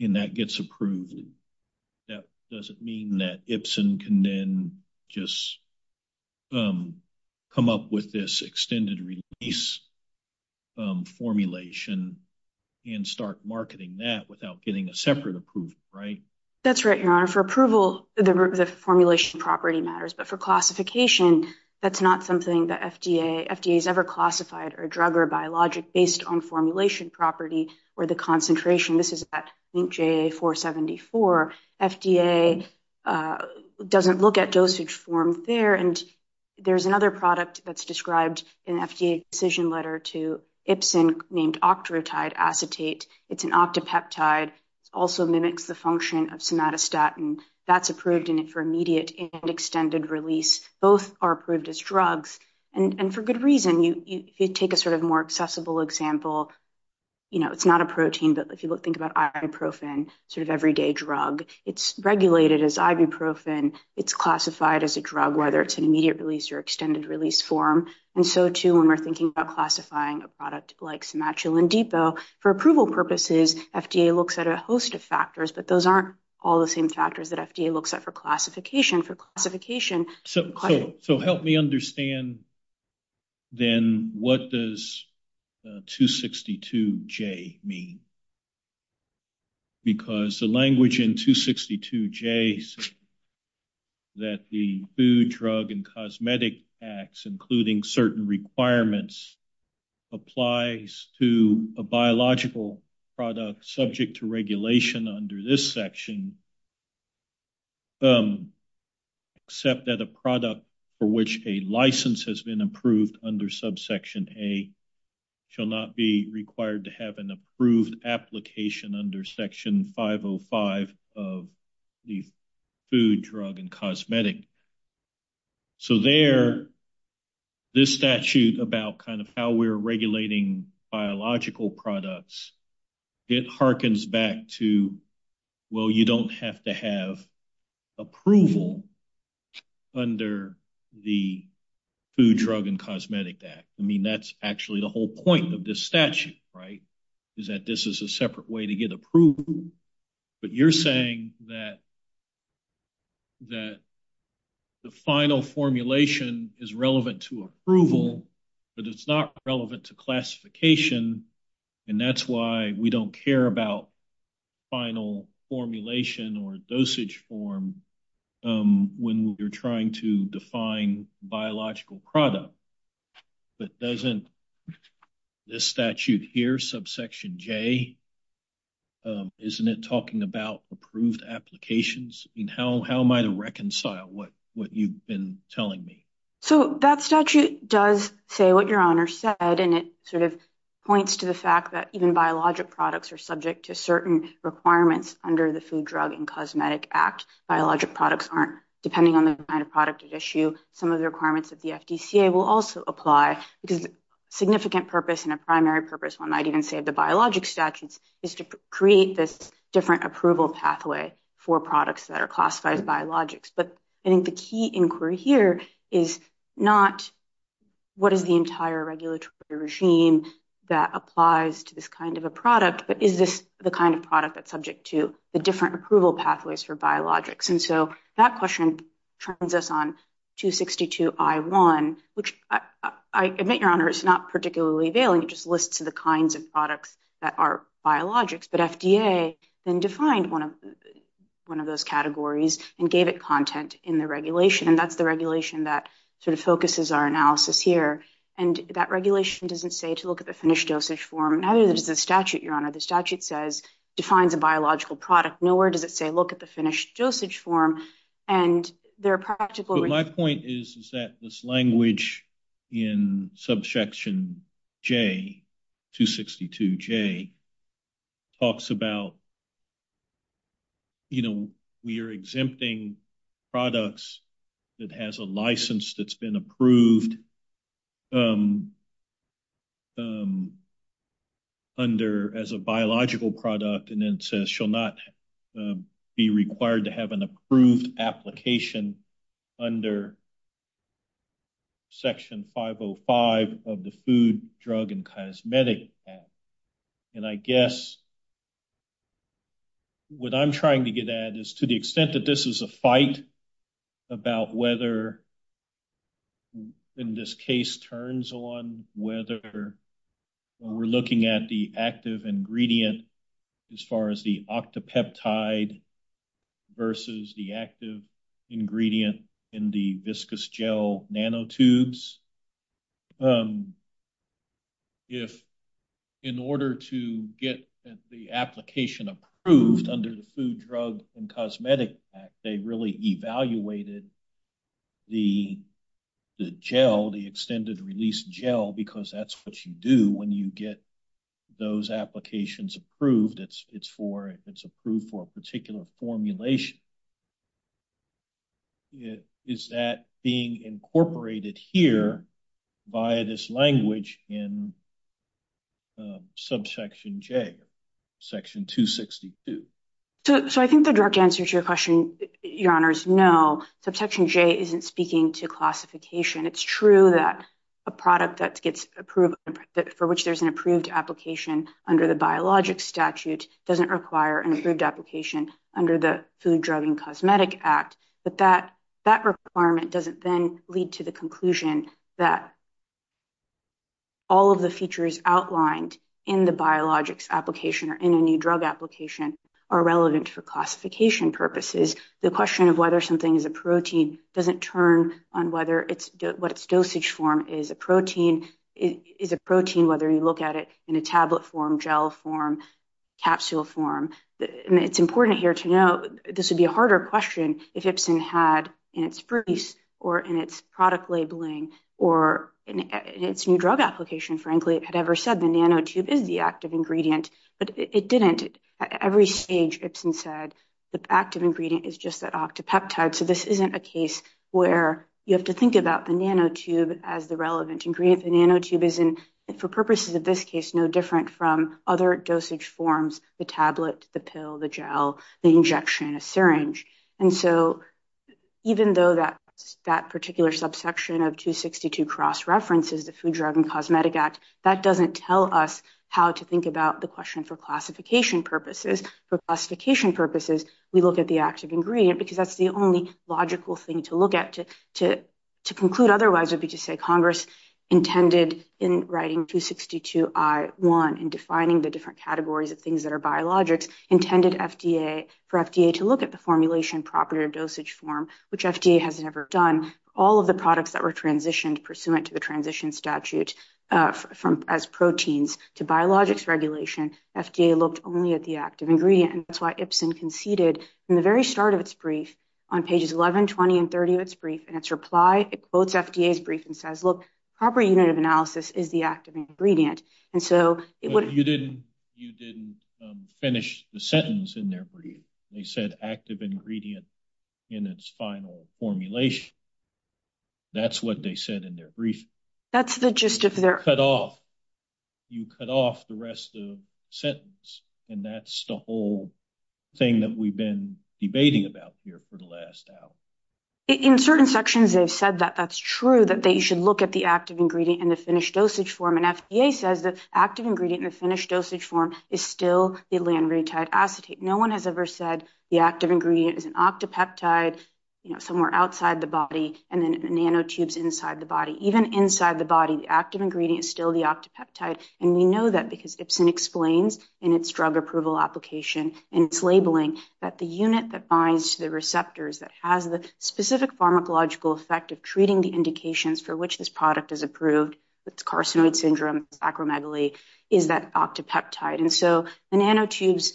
and that gets approved, that doesn't mean that Ipsen can then just come up with this extended-release formulation and start marketing that without getting a separate approval, right? That's right, Your Honor. For approval, the formulation property matters, but for classification, that's not something the FDA has ever classified or drug or biologic based on formulation property or the concentration. This is at link JA-474. FDA doesn't look at dosage form there, and there's another product that's described in FDA decision letter to Ipsen named octreotide acetate. It's an octapeptide, also mimics the function of somatostatin. That's approved for immediate and extended release. Both are approved as drugs, and for good reason. If you take a sort of more accessible example, you know, it's not a protein, but if you think about ibuprofen, sort of everyday drug, it's regulated as ibuprofen. It's classified as a drug, whether it's an immediate release or extended-release form. And so, too, when we're thinking about classifying a product like sematuline depot, for approval purposes, FDA looks at a host of factors, but those aren't all the same factors that FDA looks at for classification. For classification... So help me understand, then, what does 262-J mean? Because the language in 262-J that the Food, Drug, and Cosmetic Acts, including certain requirements, applies to a biological product subject to regulation under this section, except that a product for which a license has been approved under subsection A shall not be required to have an approved application under section 505 of the Food, Drug, and Cosmetic. So there, this statute about kind of how we're regulating biological products, it hearkens back to, well, you don't have to have approval under the Food, Drug, and Cosmetic Act. I mean, that's actually the whole point of this statute, right, is that this is a separate way to get approval. But you're saying that the final formulation is relevant to approval, but it's not relevant to classification, and that's why we don't care about final formulation or dosage form when we're trying to define biological product. But doesn't this statute here, subsection J, isn't it talking about approved applications? I mean, how am I to reconcile what you've been telling me? So that statute does say what your honor said, and it sort of points to the fact that even biologic products are subject to certain requirements under the Food, Drug, and Cosmetic Act. Biologic products aren't, depending on the kind of product at issue, some of the requirements that the FDCA will also apply, because significant purpose and a primary purpose, one might even say the biologic statute, is to create this different approval pathway for products that are classified biologics. But I think the key inquiry here is not what is the entire regulatory regime that applies to this kind of a product, but is this the kind of product that's subject to the different approval pathways for biologics? And so that question turns us on to 62I1, which I admit, your honor, it's not particularly available. It just lists the kinds of products that are gave it content in the regulation, and that's the regulation that sort of focuses our analysis here. And that regulation doesn't say to look at the finished dosage form. Neither does the statute, your honor. The statute says, defines a biological product. Nor does it say, look at the finished dosage form. And there are practical- My point is that this language in subsection J, 262J, talks about, you know, we are exempting products that has a license that's been approved as a biological product, and then says shall not be required to have an approved application under section 505 of the Food, Drug, and Cosmetic Act. And I guess what I'm trying to get at is to the extent that this is a fight about whether, in this case, turns on whether we're looking at the active ingredient as far as the octopeptide versus the active ingredient in the viscous gel nanotubes, if in order to get the application approved under the Food, Drug, and Cosmetic Act, they really evaluated the gel, the extended-release gel, because that's what you do when you get those applications approved. It's approved for a particular formulation. Is that being incorporated here by this language in subsection J, section 262? So, I think the direct answer to your question, your honor, is no. Subsection J isn't speaking to classification. It's true that a product for which there's an approved application under the biologic statute doesn't require an approved application under the Food, Drug, and Cosmetic Act, but that requirement doesn't then lead to the conclusion that all of the features outlined in the biologics application or in any drug application are relevant for classification purposes. The question of whether something is a protein doesn't turn on what its dosage form is. A protein is a protein whether you look at it in a tablet form, gel form, capsule form. It's important here to note, this would be a harder question if Ipsen had in its release or in its product labeling or in its new drug application, frankly, had ever said the nanotube is the active ingredient, but it didn't. At every stage, Ipsen said the active ingredient is just that octopeptide. So, this isn't a case where you have to think about the nanotube as the relevant ingredient. The nanotube is, for purposes of this case, no different from other dosage forms, the tablet, the pill, the gel, the injection, and a syringe. And so, even though that particular subsection of 262 cross-references the Food, Drug, and Cosmetic Act, that doesn't tell us how to think about the question for classification purposes, we look at the active ingredient because that's the only logical thing to look at. To conclude otherwise would be to say Congress intended in writing 262I1 and defining the different categories of things that are biologics, intended FDA, for FDA to look at the formulation property or dosage form, which FDA has never done. All of the products that were transitioned pursuant to the transition statute as proteins to biologics regulation, FDA looked only at the active ingredient. And that's why Ipsen conceded from the very start of its brief on pages 11, 20, and 30 of its brief, in its reply, it quotes FDA's brief and says, look, proper unit of analysis is the active ingredient. And so, it would... You didn't finish the sentence in their brief. They said active ingredient in its final formulation. That's what they said in their brief. That's the gist of their... You cut off the rest of the sentence, and that's the whole thing that we've been debating about here for the last hour. In certain sections, they've said that that's true, that they should look at the active ingredient in the finished dosage form. And FDA says that active ingredient in the finished dosage form is still the lanreutine acetate. No one has ever said the active ingredient is an octopeptide somewhere outside the body and then nanotubes inside the body. Even inside the body, the active ingredient is still the octopeptide. And we know that because Ipsen explains in its drug approval application, in its labeling, that the unit that binds to the receptors that has the specific pharmacological effect of treating the indications for which this product is approved, with carcinoid syndrome, acromegaly, is that octopeptide. And so, the nanotubes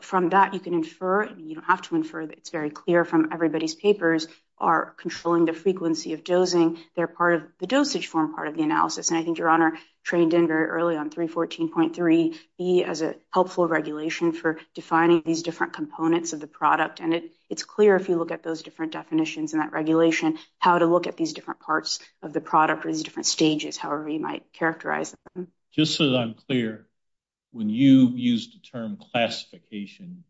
from that, you can infer, you don't have to infer, it's very clear from everybody's papers, are controlling the frequency of dosing. They're part of the dosage form, part of the analysis. And I think your honor trained in very early on 314.3b as a helpful regulation for defining these different components of the product. And it's clear if you look at those different definitions and that regulation, how to look at these different parts of the product or these different stages, however you might characterize them. Just so that I'm clear, when you use the term classification,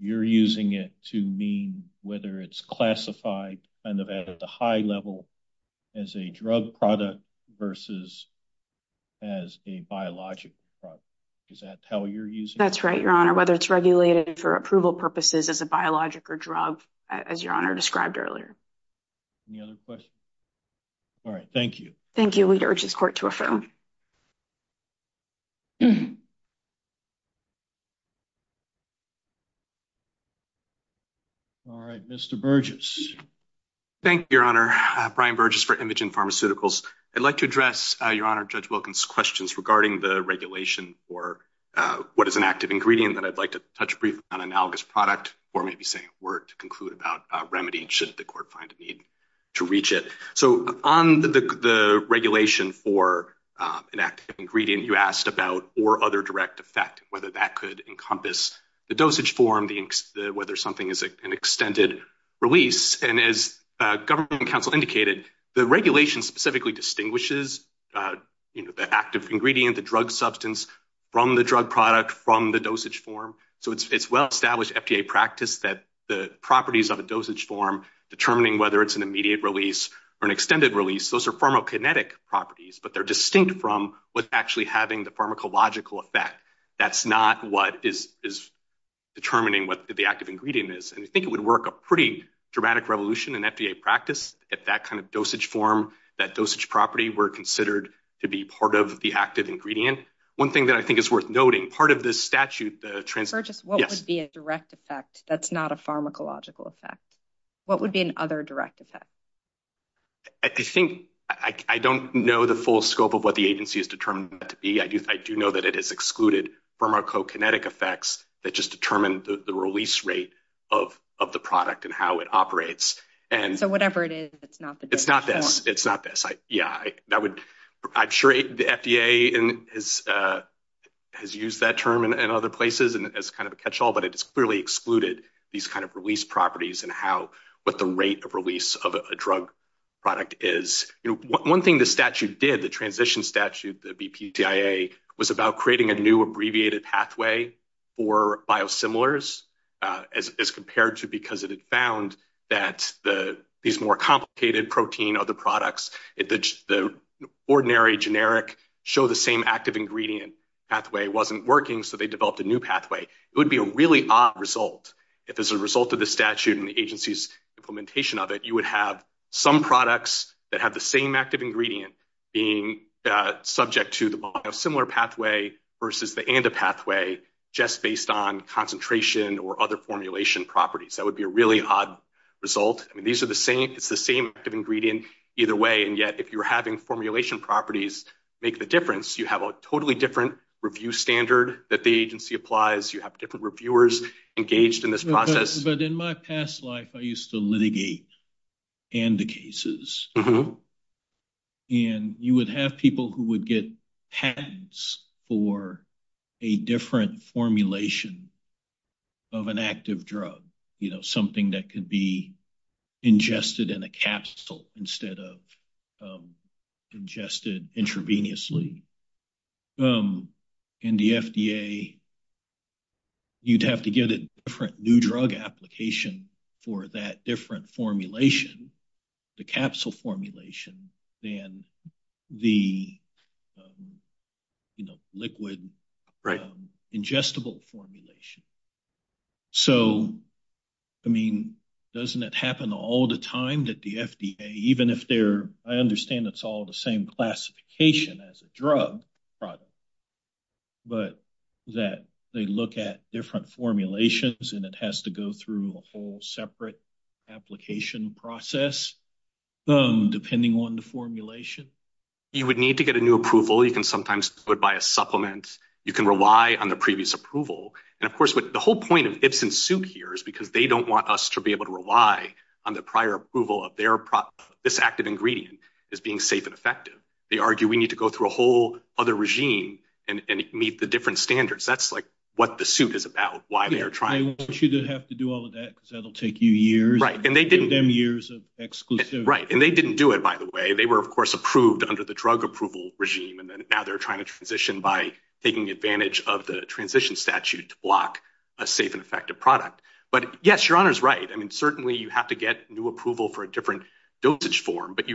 you're using it to mean whether it's classified at a high level as a drug product versus as a biologic product. Is that how you're using it? That's right, your honor. Whether it's regulated for approval purposes as a biologic or drug, as your honor described earlier. Any other questions? All right. Thank you. Thank you. We'd urge the court to affirm. All right. Mr. Burgess. Thank you, your honor. Brian Burgess for Imogen Pharmaceuticals. I'd like to address your honor Judge Wilkins' questions regarding the regulation for what is an active ingredient that I'd like to touch briefly on analogous product, or maybe say a word to conclude about remedy and should the court find a need to reach it. So on the regulation for an active ingredient you asked about or other direct effect, whether that could encompass the dosage form, whether something is an extended release. And as government counsel indicated, the regulation specifically distinguishes the active ingredient, the drug substance from the drug product from the dosage form. So it's well-established FDA practice that the properties of a dosage form determining whether it's an immediate release or an extended release, those are pharmacokinetic properties, but they're distinct from what's actually having the pharmacological effect. That's not what is determining what the active ingredient is. And I think it would work a pretty dramatic revolution in FDA practice that that kind of dosage form, that dosage property were considered to be part of the active ingredient. One thing that I think is worth noting, part of this statute... What would be a direct effect that's not a pharmacological effect? What would be an other direct effect? I don't know the full scope of what the agency is determined to be. I do know that it is excluded pharmacokinetic effects that just determine the release rate of the product and how it operates. And so whatever it is, it's not the... It's not this, it's not this. Yeah, that would... I'm sure the FDA has used that term in other places as kind of a catch-all, but it's clearly excluded these kind of release properties and what the rate of release of a drug product is. One thing the statute did, the transition statute, the BPTIA, was about creating a new abbreviated pathway for biosimilars as compared to because it had found that these more complicated protein of the products, if the ordinary generic show the same active ingredient pathway wasn't working, so they developed a new pathway. It would be a really odd result if as a result of the statute and the agency's implementation of it, you would have some products that have the same active ingredient being subject to the biosimilar pathway versus the ANDA pathway just based on concentration or other formulation properties. That would be a really odd result. I mean, these are the same. It's the same ingredient either way. And yet if you're having formulation properties make the difference, you have a totally different review standard that the agency applies. You have different reviewers engaged in this process. But in my past life, I used to litigate ANDA cases. And you would have people who would get patents for a different formulation of an active drug, something that could be ingested in a capsule instead of ingested intravenously. In the FDA, you'd have to get a different new drug application for that different formulation, the capsule formulation, than the liquid or ingestible formulation. So, I mean, doesn't it happen all the time that the FDA, even if they're, I understand it's all the same classification as a drug product, but that they look at different formulations and it has to go through a whole separate application process depending on the formulation? You would need to get a new approval. You can buy a supplement. You can rely on the previous approval. And of course, the whole point of it's in suit here is because they don't want us to be able to rely on the prior approval of this active ingredient as being safe and effective. They argue we need to go through a whole other regime and meet the different standards. That's like what the suit is about, why they are trying. I want you to have to do all of that because that'll take you years. Right. And they didn't. Them years of exclusive. Right. And they didn't do it, by the way. They were, of course, under the drug approval regime. And then now they're trying to transition by taking advantage of the transition statute to block a safe and effective product. But yes, your honor's right. I mean, certainly you have to get new approval for a different dosage form, but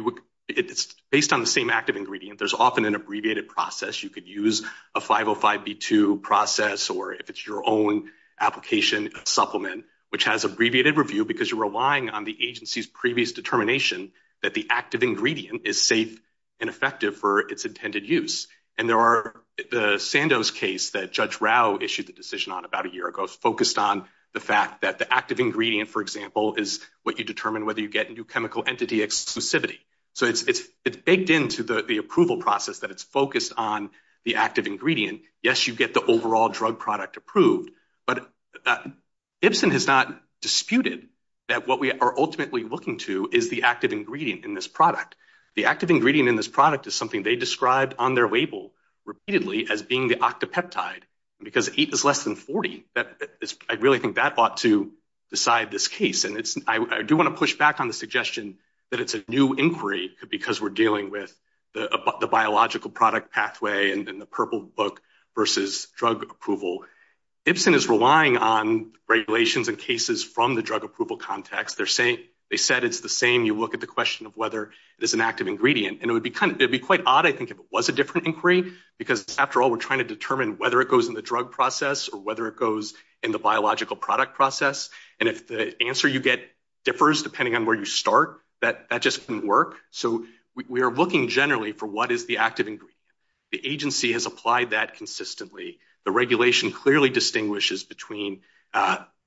it's based on the same active ingredient. There's often an abbreviated process. You could use a 505B2 process, or if it's your own application supplement, which has abbreviated review because you're relying on the agency's previous determination that the active ingredient is safe and effective for its intended use. And there are the Sandoz case that Judge Rao issued the decision on about a year ago. It's focused on the fact that the active ingredient, for example, is what you determine whether you get into chemical entity exclusivity. So it's baked into the approval process that it's focused on the active ingredient. Yes, you get the overall drug product approved, but Ibsen has not disputed that what we are ultimately looking to is the active ingredient in this product is something they described on their label repeatedly as being the octopeptide, because eight is less than 40. I really think that ought to decide this case. And I do want to push back on the suggestion that it's a new inquiry because we're dealing with the biological product pathway and the purple book versus drug approval. Ibsen is relying on regulations and cases from the drug approval context. They said it's the same. You look at the question of whether it is an active ingredient. And it would be kind of, it'd be quite odd, I think, if it was a different inquiry, because after all, we're trying to determine whether it goes in the drug process or whether it goes in the biological product process. And if the answer you get differs depending on where you start, that just doesn't work. So we are looking generally for what is the active ingredient. The agency has applied that consistently. The regulation clearly distinguishes between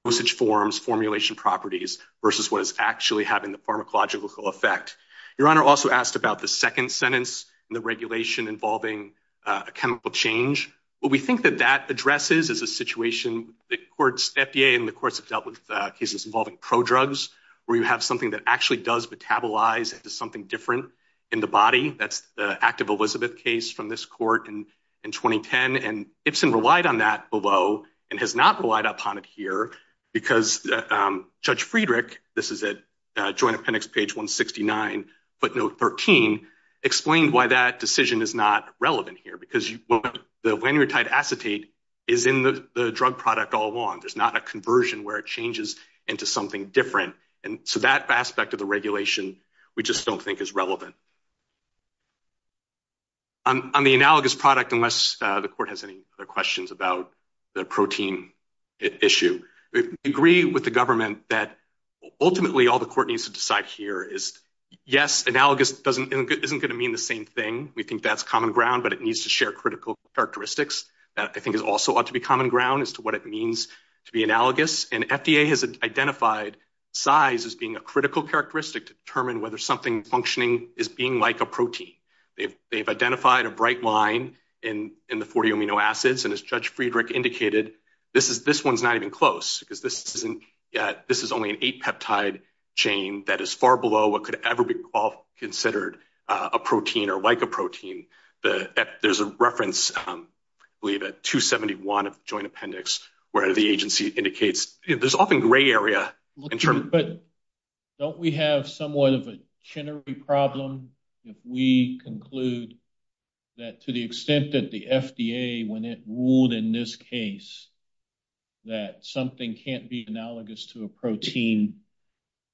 usage forms, formulation properties, versus what is actually having the pharmacological effect. Your Honor also asked about the second sentence and the regulation involving a chemical change. What we think that that addresses is a situation the courts, FDA and the courts have dealt with cases involving prodrugs, where you have something that actually does metabolize into something different in the body. That's the active Elizabeth case from this court in 2010. And Ibsen relied on that below and has not relied upon it here because Judge Friedrich, this is at Joint Appendix page 169, footnote 13, explained why that decision is not relevant here, because the lamnitide acetate is in the drug product all along. There's not a conversion where it changes into something different. And so that aspect of the regulation, we just don't think is relevant. On the analogous product, unless the court has any other questions about the protein issue, we agree with the government that ultimately all the court needs to decide here is, yes, analogous isn't going to mean the same thing. We think that's common ground, but it needs to share critical characteristics. I think it also ought to be common ground as to what it means to be analogous. And FDA has identified size as being a critical characteristic to determine whether something functioning is being like a protein. They've identified a bright line in the 40 amino acids. And as Judge Friedrich indicated, this one's not even close, because this is only an 8-peptide chain that is far below what could ever be considered a protein or like a protein. There's a reference, I believe at 271 of Joint Appendix, where the agency indicates this often gray area. But don't we have somewhat of a problem if we conclude that to the extent that the FDA, when it ruled in this case, that something can't be analogous to a protein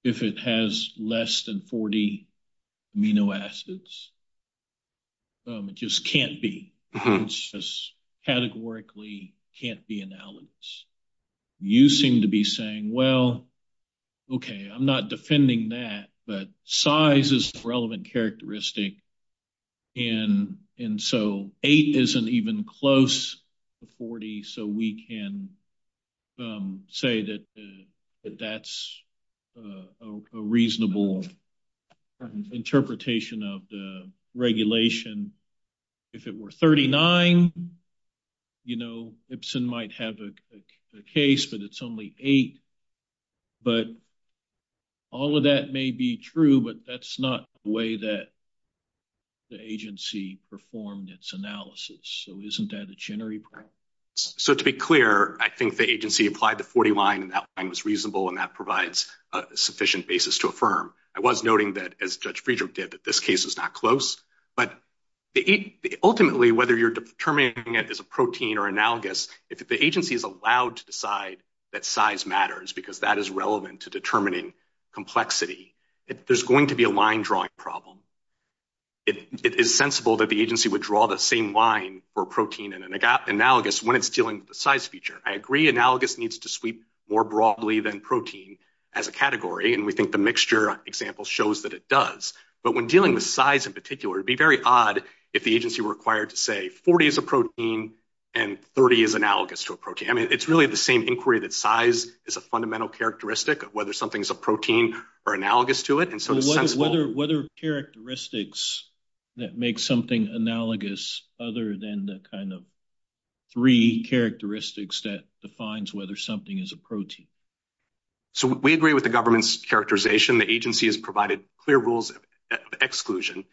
if it has less than 40 amino acids? It just can't be. It's just categorically can't be analogous. You seem to be saying, well, okay, I'm not defending that, but size is a relevant characteristic. And so 8 isn't even close to 40, so we can say that that's a reasonable interpretation of the regulation. If it were 39, Ibsen might have a case, but it's only 8. But all of that may be true, but that's not the way that the agency performed its analysis. So isn't that a jittery problem? So to be clear, I think the agency applied the 40 line, and that line was reasonable, and that provides a sufficient basis to affirm. I was noting that, as Judge Friedrich did, this case is not close. But ultimately, whether you're determining it as a protein or analogous, if the agency is allowed to decide that size matters because that is relevant to determining complexity, there's going to be a line drawing problem. It is sensible that the agency would draw the same line for protein and analogous when it's dealing with the size feature. I agree analogous needs to sweep more broadly than protein as a category, and we think the mixture example shows that it does. But when dealing with size in particular, it would be very odd if the agency were required to say 40 is a protein and 30 is analogous to a protein. I mean, it's really the same inquiry that size is a fundamental characteristic of whether something is a protein or analogous to it. So what are characteristics that make something analogous other than the kind of three characteristics that defines whether something is a protein? So we agree with the government's characterization. The agency has provided clear rules of exclusion.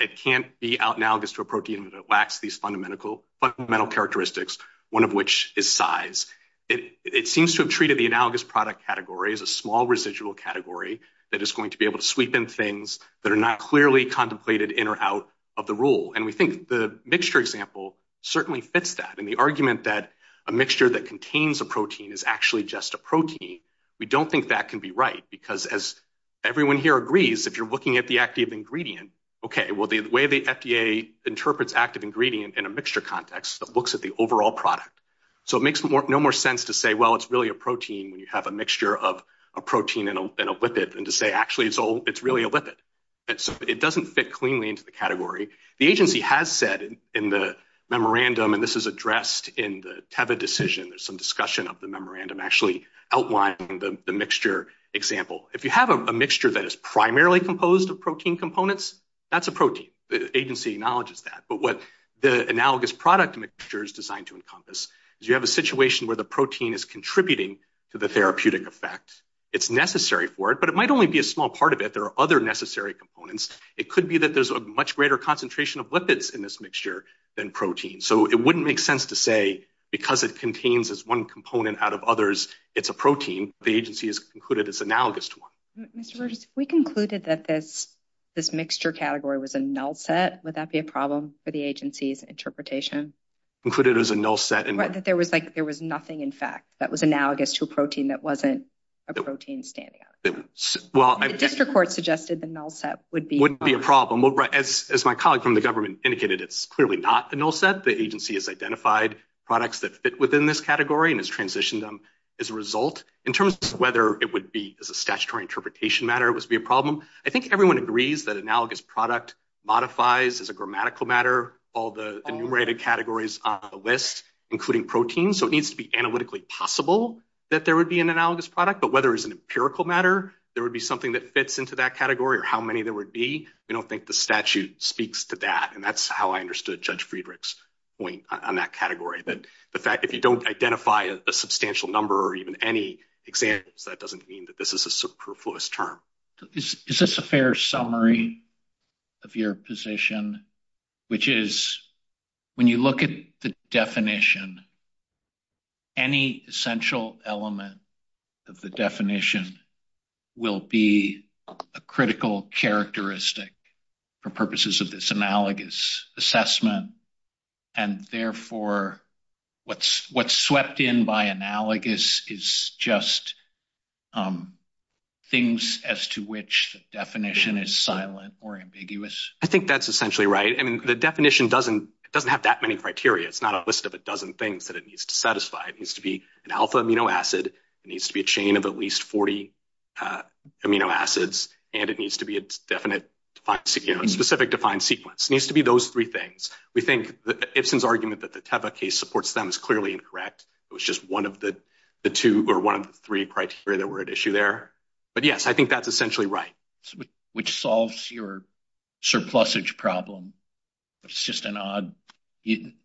It can't be analogous to a protein that lacks these fundamental characteristics, one of which is size. It seems to have treated the analogous product category as a small residual category that is going to be able to sweep in things that are not clearly contemplated in or out of the rule. And we think the mixture example certainly fits that. And the argument that a mixture that contains a protein is actually just a protein, we don't think that can be right, because as everyone here agrees, if you're looking at the active ingredient, okay, well, the way the FDA interprets active ingredient in a mixture context, it looks at the overall product. So it makes no more sense to say, well, it's really a protein when you have a mixture of a protein and a lipid, and to say, actually, it's really a lipid. It doesn't fit cleanly into the category. The agency has said in the memorandum, and this is addressed in the Teva decision, there's some discussion of the memorandum actually outlining the mixture example. If you have a mixture that is primarily composed of protein components, that's a protein. The agency acknowledges that. But what the analogous product mixture is designed to encompass is you have a situation where the protein is contributing to the therapeutic effects. It's necessary for it, but it might only be a small part of it. There are other necessary components. It could be that there's a much greater concentration of lipids in this mixture than protein. So it wouldn't make sense to say, because it contains as one component out of others, it's a protein. The agency has concluded it's analogous to one. We concluded that this mixture category was a null set. Would that be a problem for the agency's interpretation? Included as a null set. Right, that there was nothing, in fact, that was analogous to a protein that wasn't a protein standing out. Well, I guess your court suggested the null set would be a problem. As my colleague from the government indicated, it's clearly not a null set. The agency has identified products that fit within this category and has transitioned them as a result. In terms of whether it would be as a statutory interpretation matter, it would be a problem. I think everyone agrees that analogous product modifies as a grammatical matter all the enumerated categories on the list, including protein. So it needs to be analytically possible that there would be an empirical matter. There would be something that fits into that category or how many there would be. I don't think the statute speaks to that. And that's how I understood Judge Friedrich's point on that category. But the fact that you don't identify a substantial number or even any example, that doesn't mean that this is a superfluous term. Is this a fair summary of your position, which is when you look at the definition, any essential element of the definition will be a critical characteristic for purposes of this analogous assessment. And therefore, what's swept in by analogous is just things as to which the definition is silent or ambiguous. I think that's essentially right. I mean, the definition doesn't have that many criteria. It's not a list of a dozen things that it needs to satisfy. It needs to be an alpha amino acid. It needs to be a chain of at least 40 amino acids. And it needs to be a specific defined sequence. It needs to be those three things. We think Ibsen's argument that the Teva case supports them is clearly incorrect. It was just one of the two or one of the three criteria that were at issue there. But yes, I think that's essentially right. Which solves your surplusage problem. It's just an odd,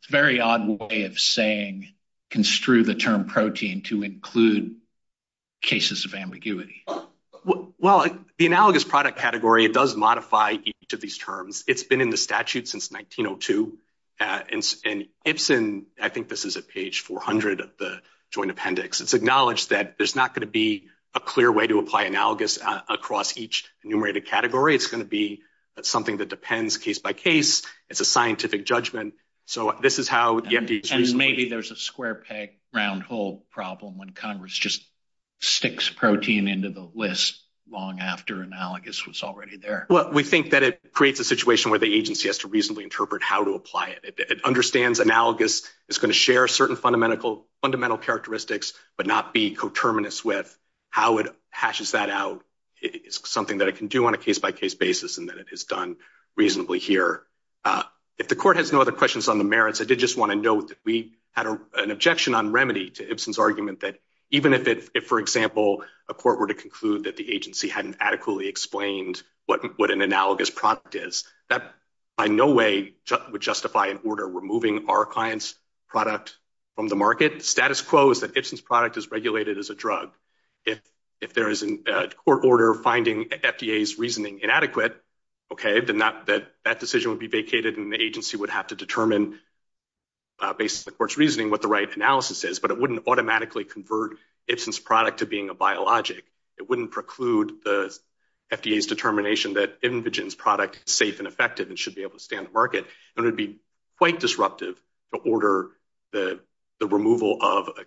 very odd way of saying construe the term protein to include cases of ambiguity. Well, the analogous product category does modify each of these terms. It's been in the statute since 1902. And Ibsen, I think this is at page 400 of the joint appendix, it's acknowledged that there's not going to be a clear way to apply analogous across each category. It's going to be something that depends case by case. It's a scientific judgment. Maybe there's a square peg, round hole problem when Congress just sticks protein into the list long after analogous was already there. Well, we think that it creates a situation where the agency has to reasonably interpret how to apply it. It understands analogous. It's going to share certain fundamental characteristics, but not be coterminous with how it hashes that out. It's something that it can do on a case by case basis, and that it has done reasonably here. If the court has no other questions on the merits, I did just want to note that we had an objection on remedy to Ibsen's argument that even if, for example, a court were to conclude that the agency hadn't adequately explained what an analogous product is, that by no way would justify an order removing our client's product from the market. Status quo is that Ibsen's product is regulated as a drug. If there is a court order finding FDA's reasoning inadequate, okay, then that decision would be vacated and the agency would have to determine, based on the court's reasoning, what the right analysis is, but it wouldn't automatically convert Ibsen's product to being a biologic. It wouldn't preclude the FDA's determination that InVigin's product is safe and effective and should be able to stand the market. It would be quite disruptive to order the removal of an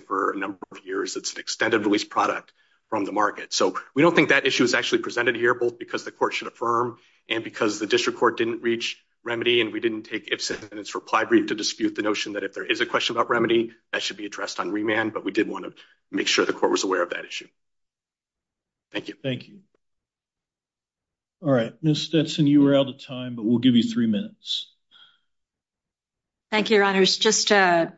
for a number of years. It's an extended-release product from the market. We don't think that issue is actually presented here, both because the court should affirm and because the district court didn't reach remedy and we didn't take Ibsen's reply brief to dispute the notion that if there is a question about remedy, that should be addressed on remand, but we did want to make sure the court was aware of that issue. Thank you. Thank you. All right. Ms. Stetson, you were out of time, but we'll give you three minutes. Thank you, Your Honors. Just a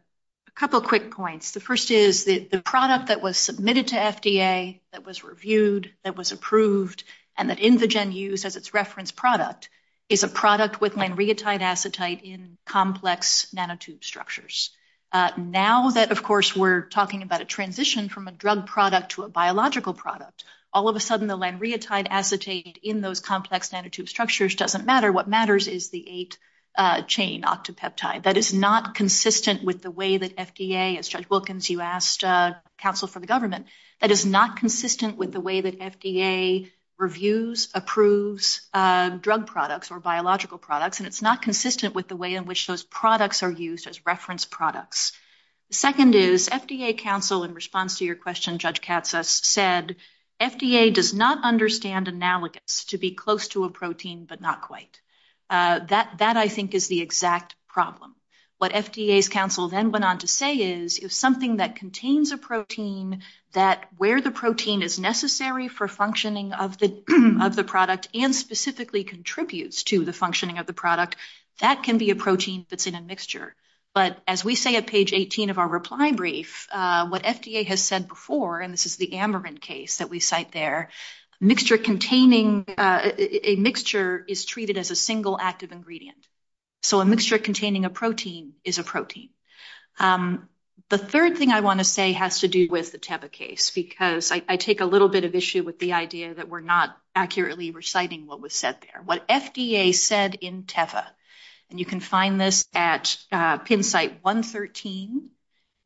couple of quick points. The first is the product that was submitted to FDA, that was reviewed, that was approved, and that InVigin used as its reference product is a product with lamreatide acetate in complex nanotube structures. Now that, of course, we're talking about a transition from a drug product to a biological product, all of a sudden the lamreatide acetate in those complex nanotube structures doesn't matter. What matters is the 8-chain octopeptide. That is not consistent with the way that FDA, as Judge Wilkins, you asked counsel for the government, that is not consistent with the way that FDA reviews, approves drug products or biological products, and it's not consistent with the way in which those products are used as reference products. The second is, FDA counsel, in response to your question, Judge Katsas, said FDA does not understand analogous to be close to a protein, but not quite. That, I think, is the exact problem. What FDA's counsel then went on to say is, if something that contains a protein, that where the protein is necessary for functioning of the product and specifically contributes to the functioning of the product, that can be a protein that's in a mixture. But as we say at page 18 of our reply brief, what FDA has said before, and this is the Amarin case that we cite there, a mixture is treated as a single active ingredient. So a mixture containing a protein is a protein. The third thing I want to say has to do with the Teva case, because I take a little bit of issue with the idea that we're not accurately reciting what was said there. What FDA said in Teva, and you can find this at PIMS site 113,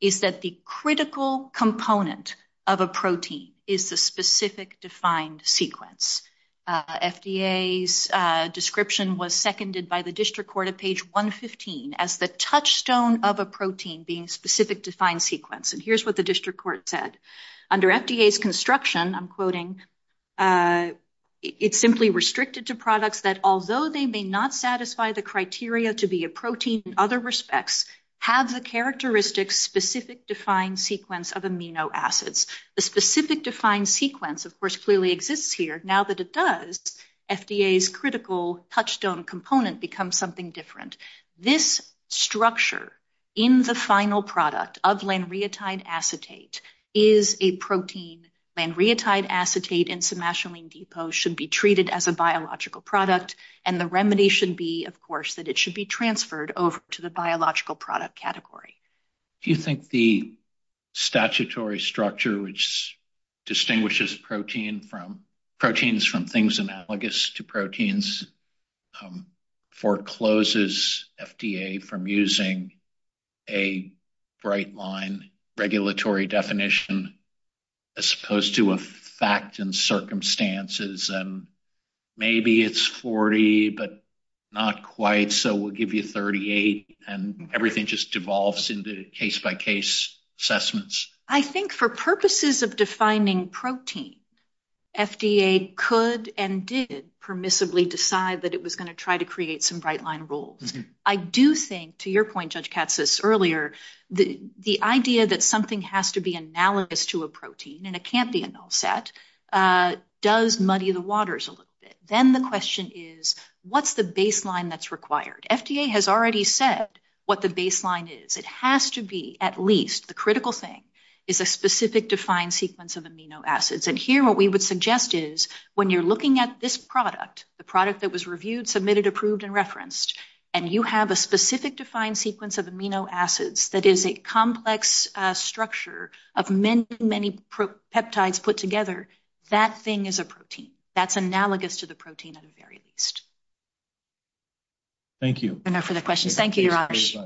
is that the critical component of a protein is the specific defined sequence. FDA's description was seconded by the district court at page 115 as the touchstone of a protein being specific defined sequence. And here's what the district court said. Under FDA's construction, I'm quoting, it's simply restricted to products that, although they may not satisfy the criteria to be a protein in other respects, have the characteristic specific defined sequence of amino acids. The specific defined sequence, of course, clearly exists here. Now that it does, FDA's critical touchstone component becomes something different. This structure in the final product of lanreotide acetate is a protein. Lanreotide acetate in somatolamine depot should be treated as a biological product, and the remedy should be, of course, that it should be transferred over to the biological product category. Do you think the statutory structure which distinguishes proteins from things analogous to proteins forecloses FDA from using a bright line regulatory definition as opposed to a fact and circumstances, and maybe it's 40, but not quite, so we'll give you 38, and everything just devolves into case-by-case assessments? I think for purposes of defining protein, FDA could and did permissibly decide that it was going to try to create some bright line rules. I do think, to your point, Judge Katz says earlier, the idea that something has to be analogous to a protein, and it can't be an offset, does muddy the waters a little bit. Then the question is, what's the baseline that's required? FDA has already said what the baseline is. It has to be, at least, the critical thing is a specific defined sequence of amino acids, and here what we would suggest is when you're looking at this product, the product that was reviewed, submitted, approved, and referenced, and you have a specific defined sequence of amino acids that is a complex structure of many, many peptides put together, that thing is a protein. That's analogous to the protein, at the very least. Thank you. No further questions. Thank you, Raj.